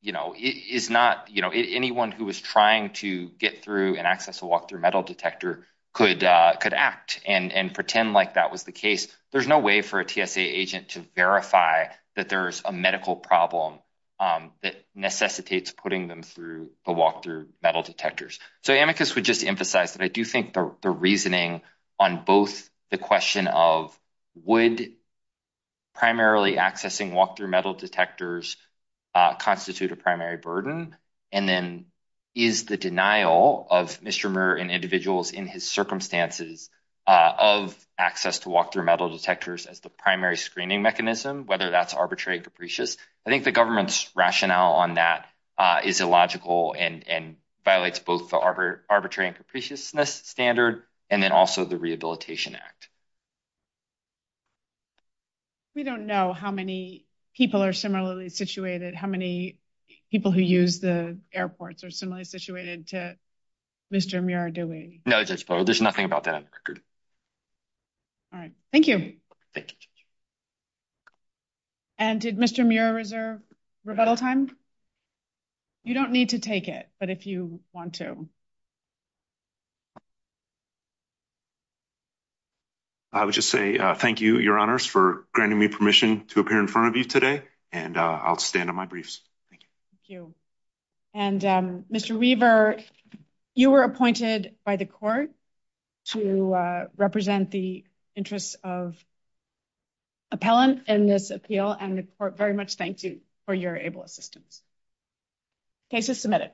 you know, is not, you know, anyone who is trying to get through and access a walk-through metal detector could act and pretend like that was the case. There's no way for a TSA agent to verify that there's a medical problem that necessitates putting them through the walk-through metal detectors. So, Amicus would just emphasize that I do think the reasoning on both the question of would primarily accessing walk-through metal detectors constitute a primary burden, and then is the denial of Mr. Muir and individuals in his circumstances of access to walk-through metal detectors as the primary screening mechanism, whether that's arbitrary and capricious, I think the government's rationale on that is illogical and violates both the arbitrary and capriciousness standard, and then also the Rehabilitation Act. We don't know how many people are similarly situated, how many people who use the airports are similarly situated to Mr. Muir, do we? No, Judge Barrow, there's nothing about that on the record. All right. Thank you. Thank you. And did Mr. Muir reserve rebuttal time? You don't need to take it, but if you want to. I would just say thank you, Your Honors, for granting me permission to appear in front of you today, and I'll stand on my briefs. Thank you. And Mr. Weaver, you were appointed by the court to represent the interests of appellant in this appeal, and the court very much thanks you for your able assistance. Case is submitted.